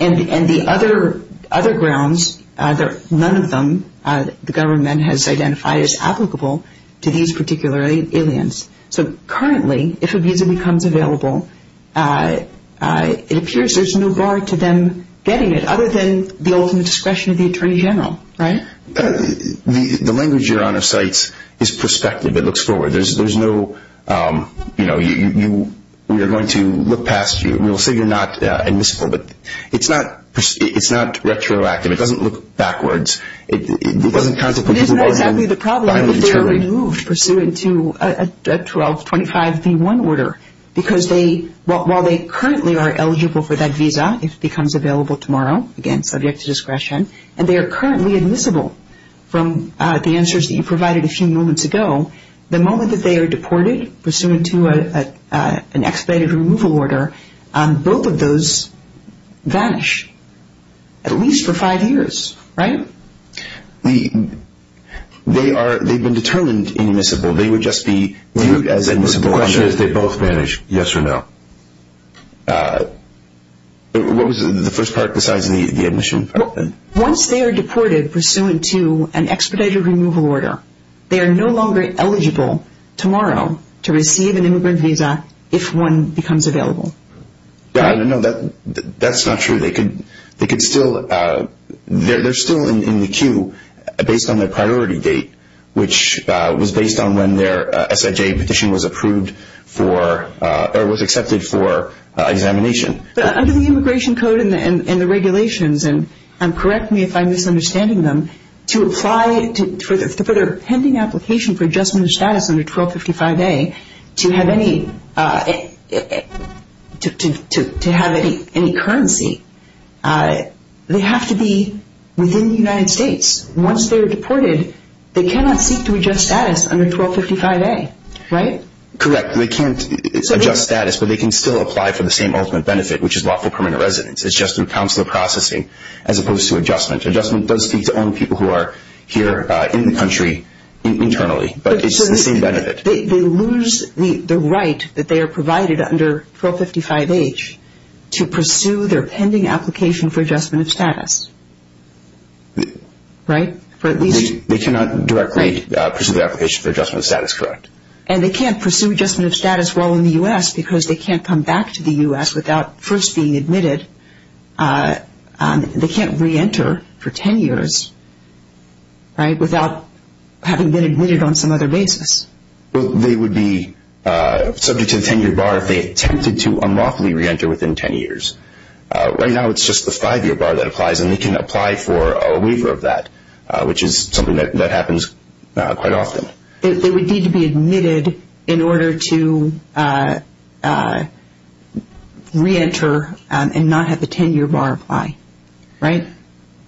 And the other grounds, none of them, the government has identified as applicable to these particular aliens. So currently, if a visa becomes available, it appears there's no bar to them getting it, other than the ultimate discretion of the Attorney General, right? The language you're on a site is prospective. It looks forward. There's no, you know, we are going to look past you. We'll say you're not admissible, but it's not retroactive. It doesn't look backwards. Isn't that exactly the problem? If they're removed pursuant to a 1225B1 order, because they, while they currently are eligible for that visa, if it becomes available tomorrow, again, subject to discretion, and they are currently admissible from the answers that you provided a few moments ago, the moment that they are deported pursuant to an expedited removal order, both of those vanish, at least for five years, right? They are, they've been determined inadmissible. They would just be viewed as admissible. The question is did both vanish, yes or no? What was the first part besides the admission part then? Once they are deported pursuant to an expedited removal order, they are no longer eligible tomorrow to receive an immigrant visa if one becomes available. No, that's not true. They could still, they're still in the queue based on their priority date, which was based on when their SIJ petition was approved for, or was accepted for examination. Under the immigration code and the regulations, and correct me if I'm misunderstanding them, to apply for a pending application for adjustment of status under 1255A to have any currency, they have to be within the United States. Once they are deported, they cannot seek to adjust status under 1255A, right? Correct. They can't adjust status, but they can still apply for the same ultimate benefit, which is lawful permanent residence. It's just through consular processing as opposed to adjustment. Adjustment does speak to only people who are here in the country internally, but it's the same benefit. They lose the right that they are provided under 455H to pursue their pending application for adjustment of status, right? They cannot directly pursue the application for adjustment of status, correct. And they can't pursue adjustment of status while in the U.S. because they can't come back to the U.S. without first being admitted. They can't re-enter for 10 years, right, without having been admitted on some other basis. They would be subject to the 10-year bar if they attempted to unlawfully re-enter within 10 years. Right now it's just the five-year bar that applies, and they can apply for a waiver of that, which is something that happens quite often. They would need to be admitted in order to re-enter and not have the 10-year bar apply, right?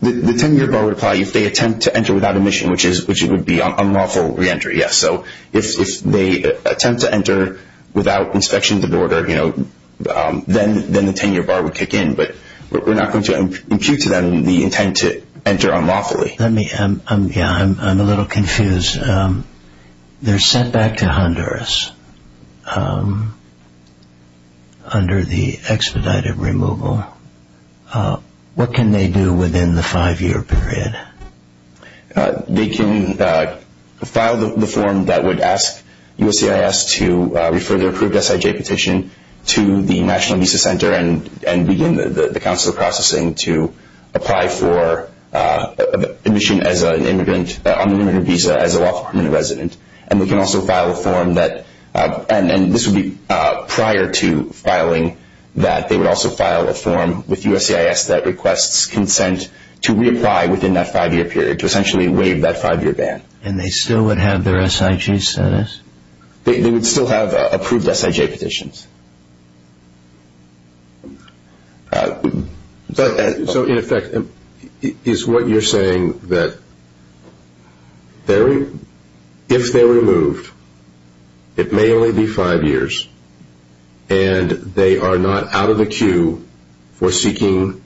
The 10-year bar would apply if they attempt to enter without admission, which would be unlawful re-entry, yes. So if they attempt to enter without inspection of the border, you know, then the 10-year bar would kick in, but we're not going to impute to them the intent to enter unlawfully. I'm a little confused. They're sent back to Honduras under the expedited removal. What can they do within the five-year period? They can file the form that would ask USCIS to refer their approved SIJ petition to the National Visa Center and begin the council processing to apply for admission as an immigrant on an immigrant visa as a lawful immigrant resident. And they can also file a form that – and this would be prior to filing that – they would also file a form with USCIS that requests consent to re-apply within that five-year period, to essentially waive that five-year ban. And they still would have their SIJ status? They would still have approved SIJ petitions. So in effect, is what you're saying that if they're removed, it may only be five years, and they are not out of the queue for seeking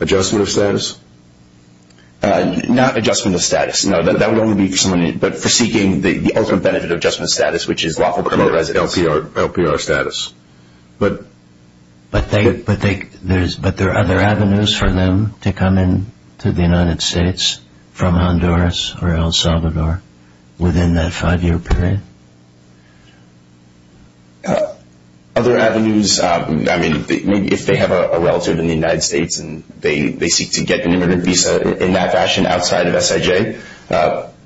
adjustment of status? Not adjustment of status. No, that would only be for seeking the ultimate benefit of adjustment of status, which is lawful criminalized LPR status. But there are other avenues for them to come into the United States from Honduras or El Salvador within that five-year period? Other avenues, I mean, if they have a relative in the United States and they seek to get an immigrant visa in that fashion outside of SIJ,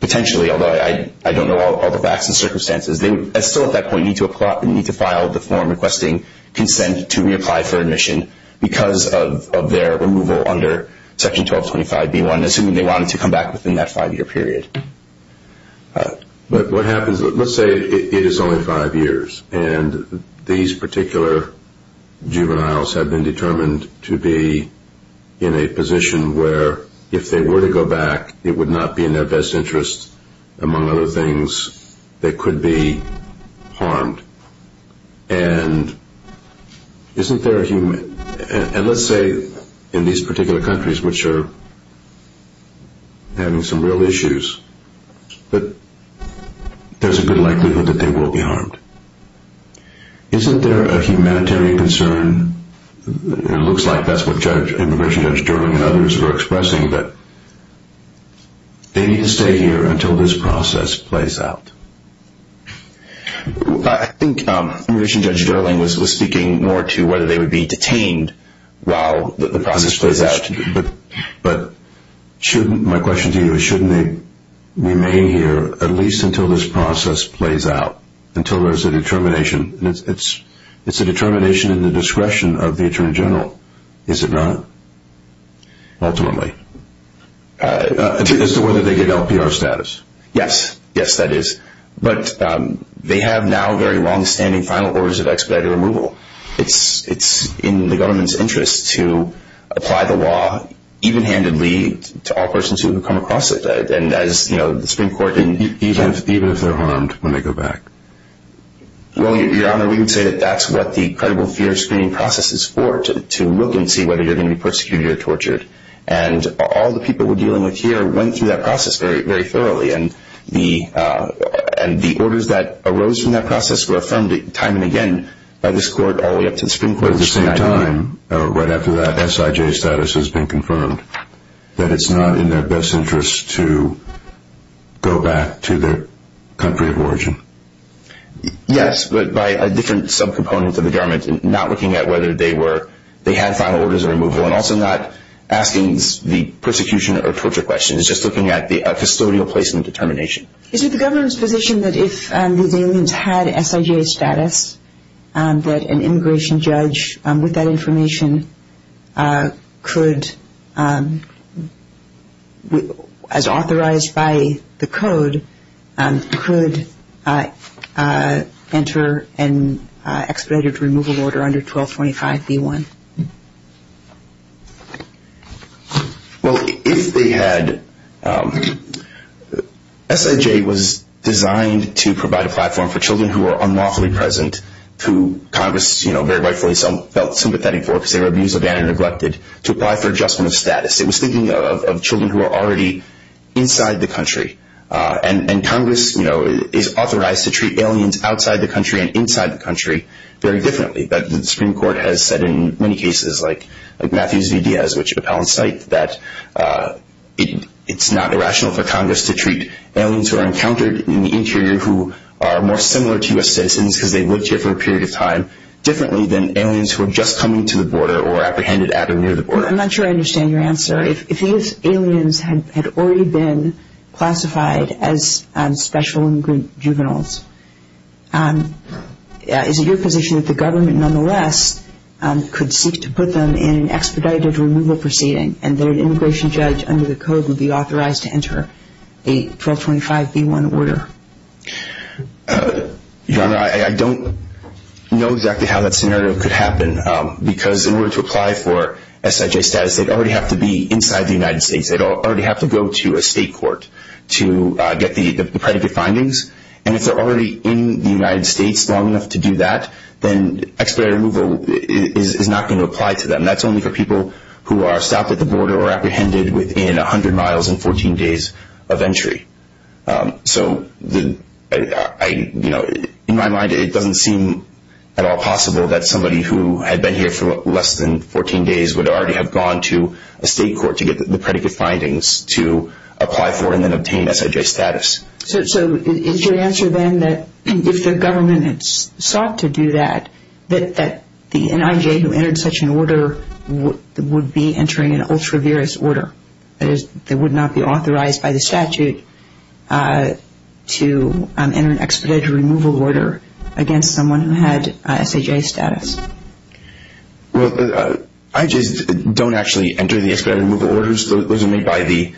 potentially, although I don't know all the facts and circumstances, they still at that point need to file the form requesting consent to re-apply for admission because of their removal under Section 1225B1, assuming they wanted to come back within that five-year period. But what happens – let's say it is only five years, and these particular juveniles have been determined to be in a position where if they were to go back, it would not be in their best interest, among other things, they could be harmed. And isn't there a human – and let's say in these particular countries, which are having some real issues, but there's a good likelihood that they will be harmed. Isn't there a humanitarian concern? It looks like that's what Judge – Immigration Judge Gerling and others were expressing, that they need to stay here until this process plays out. I think Immigration Judge Gerling was speaking more to whether they would be detained while the process plays out. But shouldn't – my question to you is shouldn't they remain here at least until this process plays out, until there's a determination? It's a determination in the discretion of the Attorney General, is it not, ultimately? As to whether they get LPR status. Yes. Yes, that is. But they have now very longstanding final orders of expedited removal. It's in the government's interest to apply the law even-handedly to all persons who come across it. And as, you know, the Supreme Court – Even if they're harmed when they go back? Well, Your Honor, we would say that that's what the credible fear screening process is for, to look and see whether you're going to be persecuted or tortured. And all the people we're dealing with here went through that process very thoroughly. And the orders that arose from that process were affirmed time and again by this Court all the way up to the Supreme Court. But at the same time, right after that, SIJ status has been confirmed. But it's not in their best interest to go back to their country of origin? Yes, but by a different sub-component of the government, not looking at whether they were – they had final orders of removal, and also not asking the persecution or torture question. It's just looking at the custodial placement determination. Is it the government's position that if the Indians had SIJ status, that an immigration judge with that information could, as authorized by the code, could enter an expedited removal order under 1225B1? Well, if they had – SIJ was designed to provide a platform for children who are unlawfully present, who Congress, you know, very rightfully felt sympathetic for, considered abusive and neglected, to apply for adjustment of status. It was speaking of children who are already inside the country. And Congress, you know, is authorized to treat aliens outside the country and inside the country very differently. The Supreme Court has said in many cases, like Matthews v. Diaz, which appellants cite, that it's not irrational for Congress to treat aliens who are encountered in the interior who are more similar to U.S. citizens because they lived here for a period of time differently than aliens who are just coming to the border or apprehended at or near the border. I'm not sure I understand your answer. If these aliens had already been classified as special juveniles, is it your position that the government, nonetheless, could seek to put them in an expedited removal proceeding and that an immigration judge under the code would be authorized to enter a 1225B1 order? I don't know exactly how that scenario could happen because in order to apply for SIJ status, they'd already have to be inside the United States. They'd already have to go to a state court to get the predicate findings. If they're already in the United States long enough to do that, then expedited removal is not going to apply to them. That's only for people who are stopped at the border or apprehended within 100 miles and 14 days of entry. In my mind, it doesn't seem at all possible that somebody who had been here for less than 14 days would already have gone to a state court to get the predicate findings to apply for and then obtain SIJ status. So, is your answer then that if the government sought to do that, that the NIJ who entered such an order would be entering an ultra-virus order? That is, they would not be authorized by the statute to enter an expedited removal order against someone who had SIJ status? Well, IJs don't actually enter the expedited removal orders. The order was made by the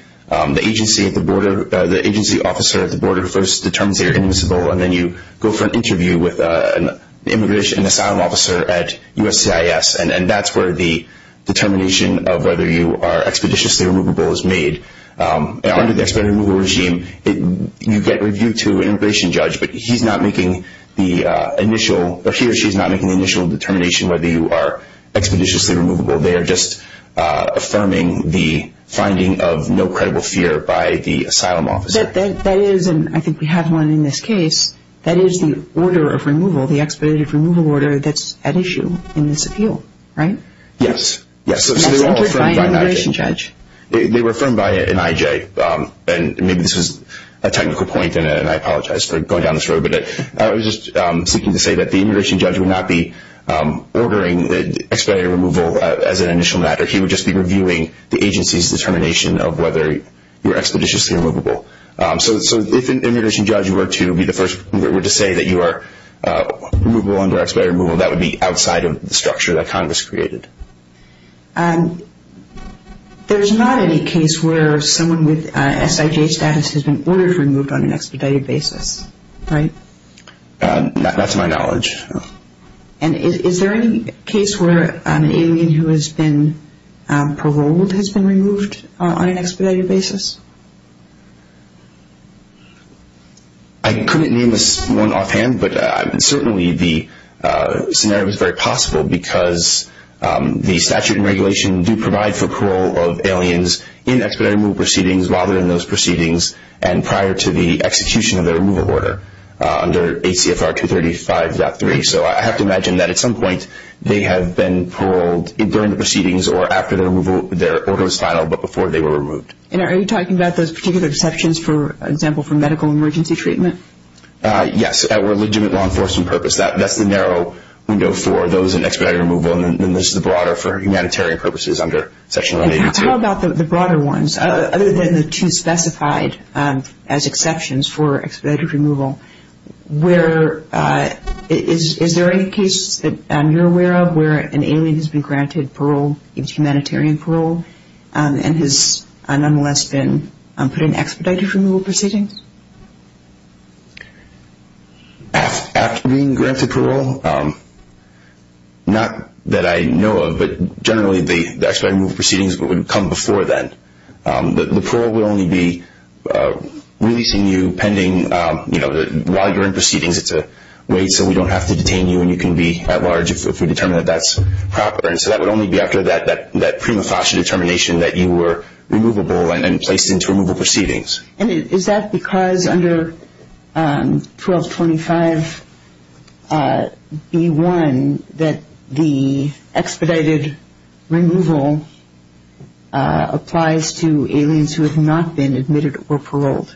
agency officer at the border. First, the terms are immiscible, and then you go for an interview with an immigration asylum officer at USCIS, and that's where the determination of whether you are expeditiously removable is made. Under the expedited removal regime, you get reviewed to an immigration judge, but he or she is not making the initial determination whether you are expeditiously removable. They are just affirming the finding of no credible fear by the asylum officer. That is, and I think we have one in this case, that is the order of removal, the expedited removal order that's at issue in this appeal, right? Yes. So, they were all affirmed by an IJ. They were affirmed by an IJ, and maybe this is a technical point, and I apologize for going down this road, but I was just seeking to say that the immigration judge would not be ordering expedited removal as an initial matter. He would just be reviewing the agency's determination of whether you are expeditiously removable. So, if an immigration judge were to say that you are removable under expedited removal, that would be outside of the structure that Congress created. There's not any case where someone with SIJ status has been ordered removed on an expedited basis, right? That's my knowledge. And is there any case where an alien who has been paroled has been removed on an expedited basis? I couldn't name this one offhand, but certainly the scenario is very possible because the statute and regulation do provide for parole of aliens in expedited removal proceedings, while they're in those proceedings, and prior to the execution of their removal order under ACFR 235.3. So, I have to imagine that at some point they have been paroled during the proceedings or after their order was filed, but before they were removed. And are you talking about those particular exceptions, for example, for medical emergency treatment? Yes, for legitimate law enforcement purposes. That's the narrow window for those in expedited removal, and then there's the broader for humanitarian purposes under Section 183. How about the broader ones? Other than the two specified as exceptions for expedited removal, is there any case that you're aware of where an alien has been granted parole, a humanitarian parole, and has an unarmed man been put in expedited removal proceedings? After being granted parole? Not that I know of, but generally the expedited removal proceedings would come before that. The parole will only be releasing you pending, you know, while you're in proceedings, it's a way so we don't have to detain you and you can be at large if we determine that that's proper. And so that would only be after that prima facie determination that you were removable and placed into removal proceedings. And is that because under 1225B1 that the expedited removal applies to aliens who have not been admitted or paroled?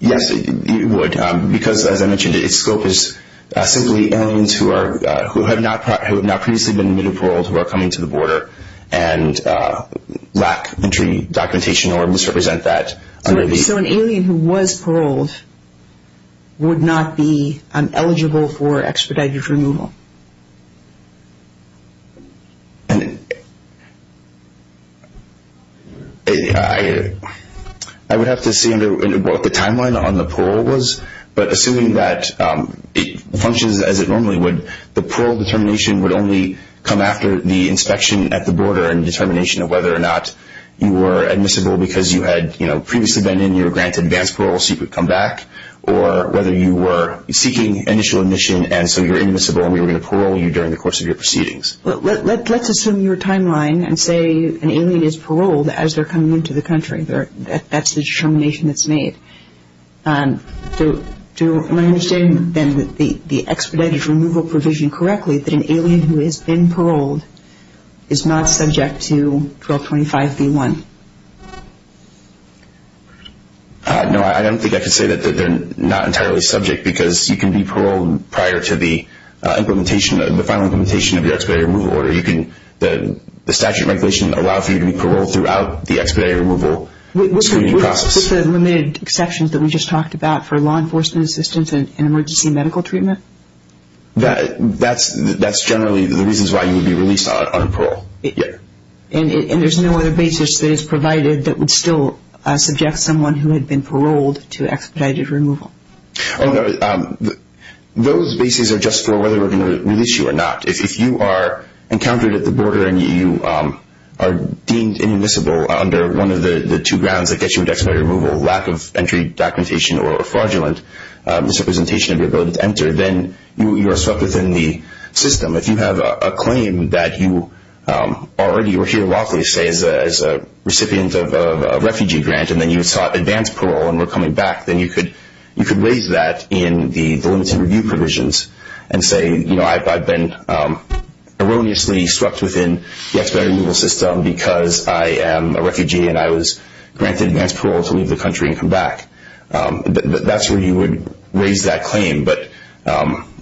Yes, it would, because, as I mentioned, the scope is simply aliens who have not previously been admitted or paroled who are coming to the border and lack entry documentation or misrepresent that. So an alien who was paroled would not be eligible for expedited removal? I would have to see what the timeline on the parole was, but assuming that it functions as it normally would, the parole determination would only come after the inspection at the border and determination of whether or not you were admissible because you had, you know, previously been in your grant-advanced parole so you could come back, or whether you were seeking initial admission and so you're admissible and we were going to parole you during the course of your proceedings. Let's assume your timeline and say an alien is paroled as they're coming into the country. That's the determination that's made. So do I understand the expedited removal provision correctly, that an alien who has been paroled is not subject to 1225B1? No, I don't think I could say that they're not entirely subject because you can be paroled prior to the final implementation of the expedited removal order. The statute regulation allows you to be paroled throughout the expedited removal process. With the limited exceptions that we just talked about for law enforcement assistance and emergency medical treatment? That's generally the reasons why you would be released on parole. And there's no other basis that is provided that would still subject someone who had been paroled to expedited removal. Those basis are just for whether we're going to release you or not. If you are encountered at the border and you are deemed inadmissible under one of the two grounds, I guess you would expedite removal, lack of entry, documentation, or fraudulent misrepresentation of your ability to enter, then you are stuck within the system. If you have a claim that you already were here lawfully, say, as a recipient of a refugee grant and then you sought advance parole and were coming back, then you could raise that in the limited review provisions and say, you know, I've been erroneously swept within the expedited removal system because I am a refugee and I was granted advance parole to leave the country and come back. That's where you would raise that claim. But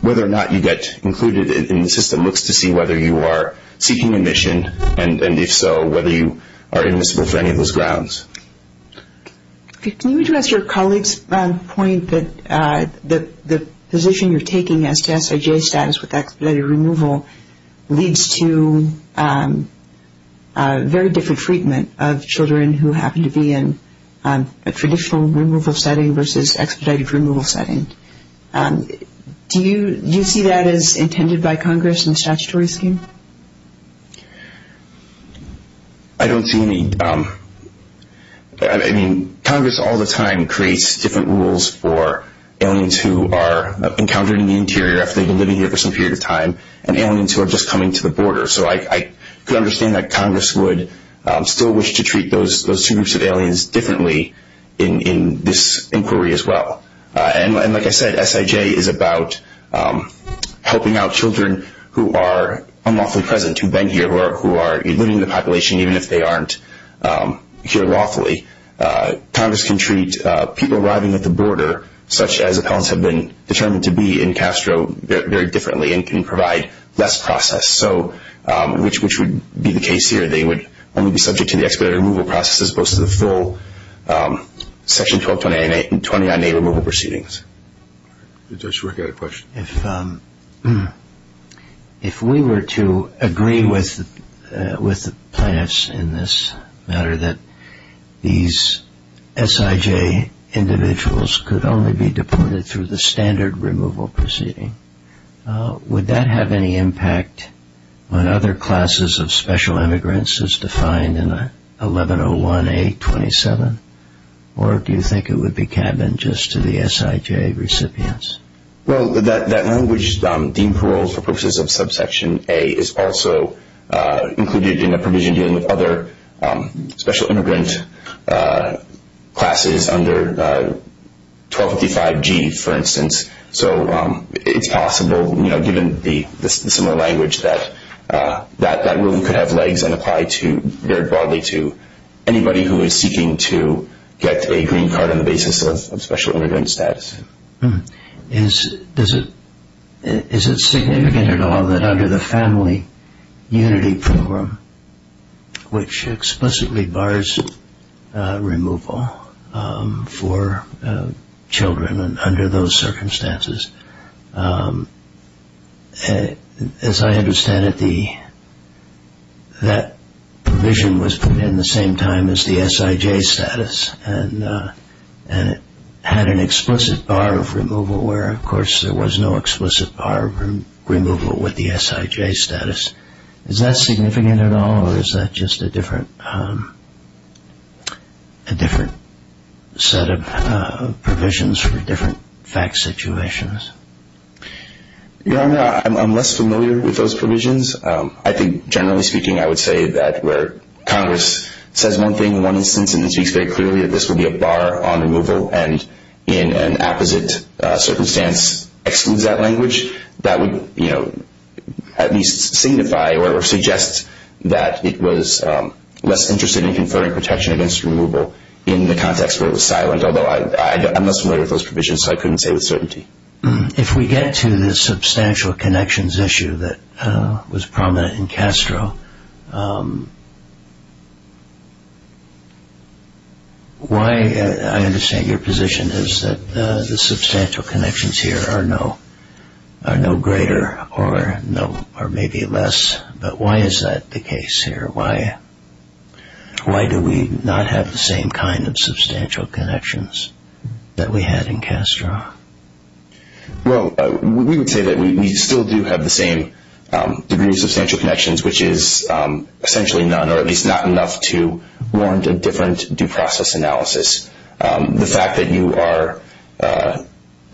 whether or not you get included in the system looks to see whether you are seeking admission, and if so, whether you are inadmissible for any of those grounds. Can you address your colleague's point that the position you're taking as to SIJ status with expedited removal leads to very different treatment of children who happen to be in a traditional removal setting versus expedited removal setting? Do you see that as intended by Congress in the statutory scheme? I don't see any. I mean, Congress all the time creates different rules for aliens who are encountered in the interior after they've been living here for some period of time and aliens who are just coming to the border. So I can understand that Congress would still wish to treat those two groups of aliens differently in this inquiry as well. And like I said, SIJ is about helping out children who are unlawfully present, who have been here, who are leaving the population even if they aren't here lawfully. Congress can treat people arriving at the border, such as opponents have been determined to be in Castro, very differently and can provide less process, which would be the case here. If we were to agree with the plans in this matter that these SIJ individuals could only be deported through the standard removal proceeding, would that have any impact on other classes of special immigrants for instance defined in 1101A27? Or do you think it would be candid just to the SIJ recipients? Well, that language deemed paroled for purposes of subsection A is also included in the provision dealing with other special immigrant classes under 1255G, for instance. So it's possible, given the similar language, that that rule could have legs and apply very broadly to anybody who is seeking to get a green card on the basis of special immigrant status. Is it significant at all that under the Family Unity Program, which explicitly bars removal for children under those circumstances, as I understand it, that provision was put in at the same time as the SIJ status and it had an explicit bar of removal, where of course there was no explicit bar of removal with the SIJ status. Is that significant at all or is that just a different set of provisions for different fact situations? You know, I'm less familiar with those provisions. I think generally speaking I would say that where Congress says one thing in one instance and then you say clearly that this would be a bar on removal and in an opposite circumstance exclude that language, that would, you know, at least signify or suggest that it was less interested in conferring protection against removal in the context where it was silenced, although I'm less familiar with those provisions so I couldn't say with certainty. If we get to the substantial connections issue that was prominent in Castro, why, I understand your position is that the substantial connections here are no greater or maybe less, but why is that the case here? Why do we not have the same kind of substantial connections that we had in Castro? Well, we would say that we still do have the same degree of substantial connections, which is essentially none or at least not enough to warrant a different due process analysis. The fact that you are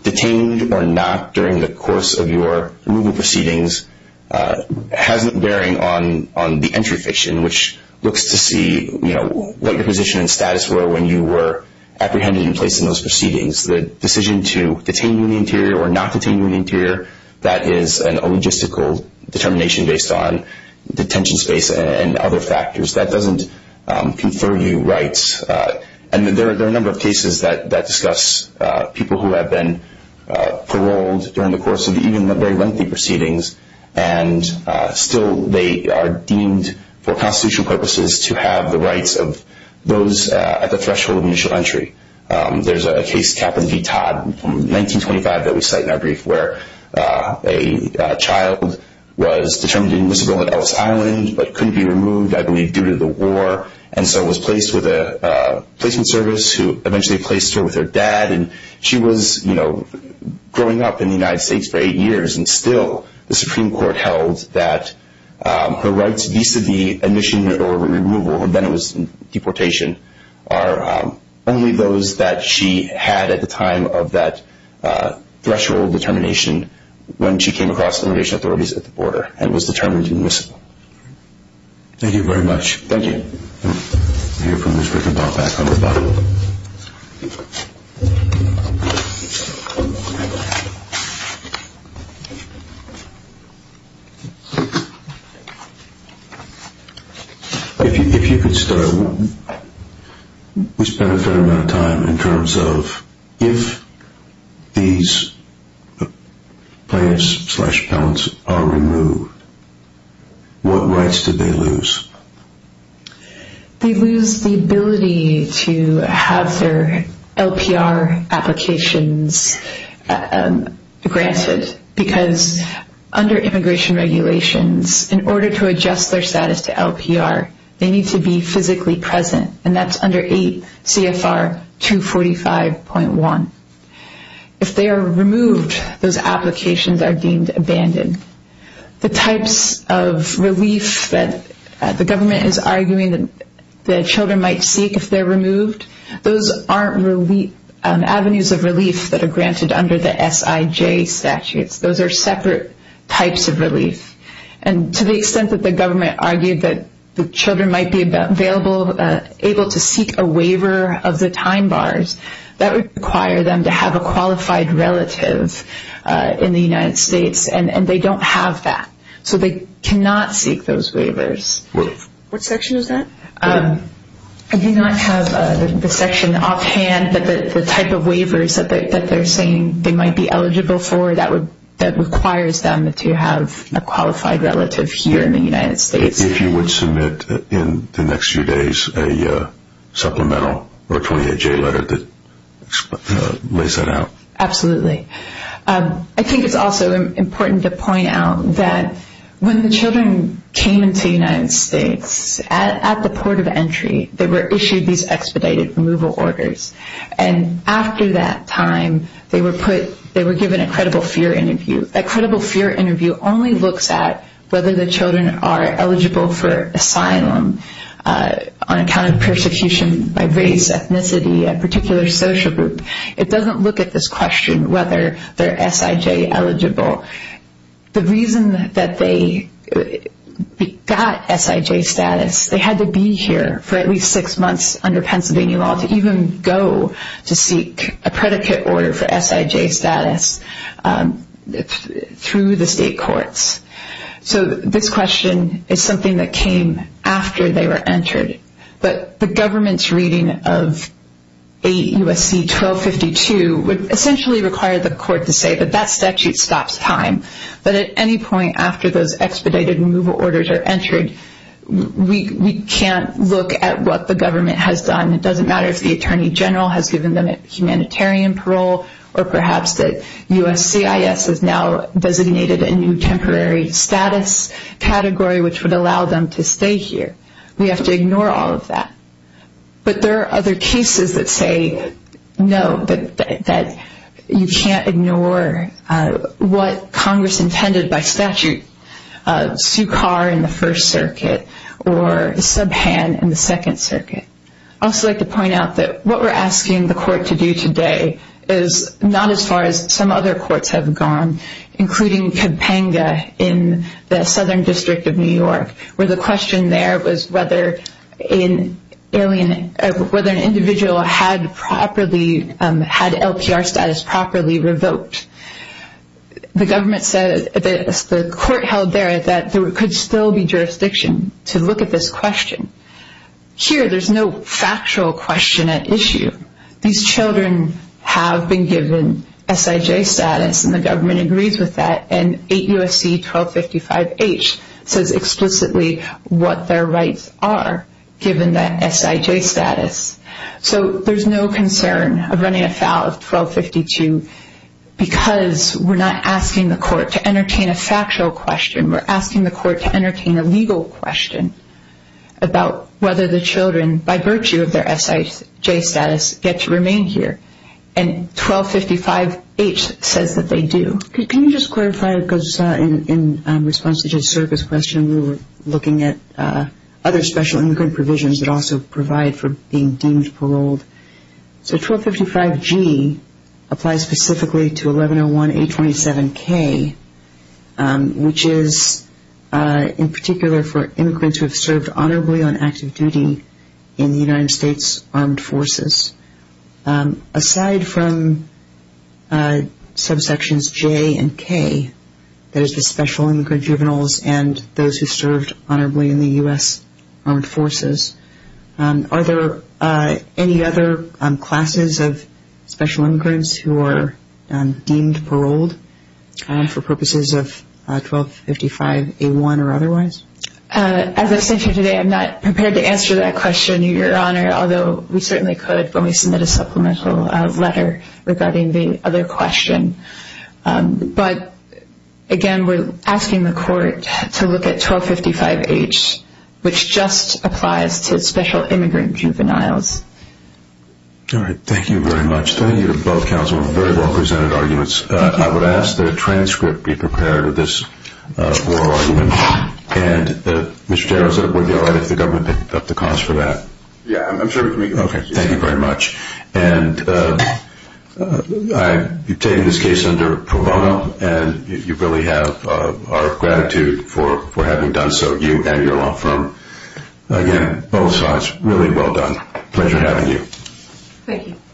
detained or not during the course of your removal proceedings has varying on the entry fiction, which looks to see, you know, what your position and status were when you were apprehended and placed in those proceedings. The decision to detain you in the interior or not detain you in the interior, that is a logistical determination based on detention space and other factors. That doesn't confer you rights, and there are a number of cases that discuss people who have been paroled during the course of even the very lengthy proceedings, and still they are deemed for constitutional purposes to have the rights of those at the threshold of initial entry. There's a case, Captain D. Todd, from 1925 that we cite in our brief, where a child was determined to be miserable at Ellis Island but couldn't be removed, I believe, due to the war, and so was placed with a prison service who eventually placed her with her dad. And she was, you know, growing up in the United States for eight years, and still the Supreme Court held that her rights vis-à-vis admission or removal, and then it was deportation, are only those that she had at the time of that threshold determination when she came across immigration authorities at the border and was determined to be miserable. Thank you very much. Thank you. Do you have permission to come back, everybody? If you could spend a fair amount of time in terms of if these plaintiffs slash counts are removed, what rights do they lose? They lose the ability to have their LPR applications granted, because under immigration regulations, in order to adjust their status to LPR, they need to be physically present, and that's under 8 CFR 245.1. If they are removed, those applications are deemed abandoned. The types of relief that the government is arguing that children might seek if they're removed, those aren't avenues of relief that are granted under the SIJ statute. Those are separate types of relief. And to the extent that the government argued that the children might be able to seek a waiver of the time bars, that would require them to have a qualified relative in the United States, and they don't have that, so they cannot seek those waivers. What section is that? I do not have the section offhand, but the type of waivers that they're saying they might be eligible for, that requires them to have a qualified relative here in the United States. If you would submit in the next few days a supplemental or a 28J letter that lays that out. Absolutely. I think it's also important to point out that when the children came to the United States, at the port of entry they were issued these expedited removal orders, and after that time they were given a credible fear interview. A credible fear interview only looks at whether the children are eligible for asylum on account of persecution by race, ethnicity, a particular social group. It doesn't look at this question whether they're SIJ eligible. The reason that they got SIJ status, they had to be here for at least six months under Pennsylvania law to even go to seek a predicate order for SIJ status through the state courts. So this question is something that came after they were entered, but the government's reading of 8 U.S.C. 1252 would essentially require the court to say that that statute stops time, but at any point after those expedited removal orders are entered, we can't look at what the government has done. It doesn't matter if the Attorney General has given them humanitarian parole or perhaps that U.S.C.I.S. has now designated a new temporary status category, which would allow them to stay here. We have to ignore all of that. But there are other cases that say no, that you can't ignore what Congress intended by statute. Sue Carr in the First Circuit or Subhan in the Second Circuit. I'd also like to point out that what we're asking the court to do today is not as far as some other courts have gone, including Companga in the Southern District of New York, where the question there was whether an individual had LPR status properly revoked. The court held there that there could still be jurisdiction to look at this question. Here there's no factual question at issue. These children have been given SIJ status, and the government agrees with that, and 8 U.S.C. 1255-H says explicitly what their rights are given that SIJ status. So there's no concern of running afoul of 1252 because we're not asking the court to entertain a factual question. We're asking the court to entertain a legal question about whether the children, by virtue of their SIJ status, get to remain here. And 1255-H says that they do. Can you just clarify, because in response to Judge Serka's question, we were looking at other special immigrant provisions that also provide for being deemed paroled. So 1255-G applies specifically to 1101-827-K, which is in particular for immigrants who have served honorably on active duty in the United States Armed Forces. Aside from subsections J and K, that is the special immigrant juveniles and those who served honorably in the U.S. Armed Forces, are there any other classes of special immigrants who are deemed paroled for purposes of 1255-A1 or otherwise? As I said to you today, I'm not prepared to answer that question, Your Honor, although we certainly could when we submit a supplemental letter regarding the other question. But, again, we're asking the court to look at 1255-H, which just applies to special immigrant juveniles. All right. Thank you very much. Both counsel have very well-presented arguments. I would ask that a transcript be prepared of this oral argument, and Mr. Carroll said it would be all right if the government picked up the cost for that. Yeah, I'm sure we can. Okay. Thank you very much. And you've taken this case under pro bono, and you really have our gratitude for having done so, you and your law firm. Again, both sides, really well done. Pleasure having you. Thank you.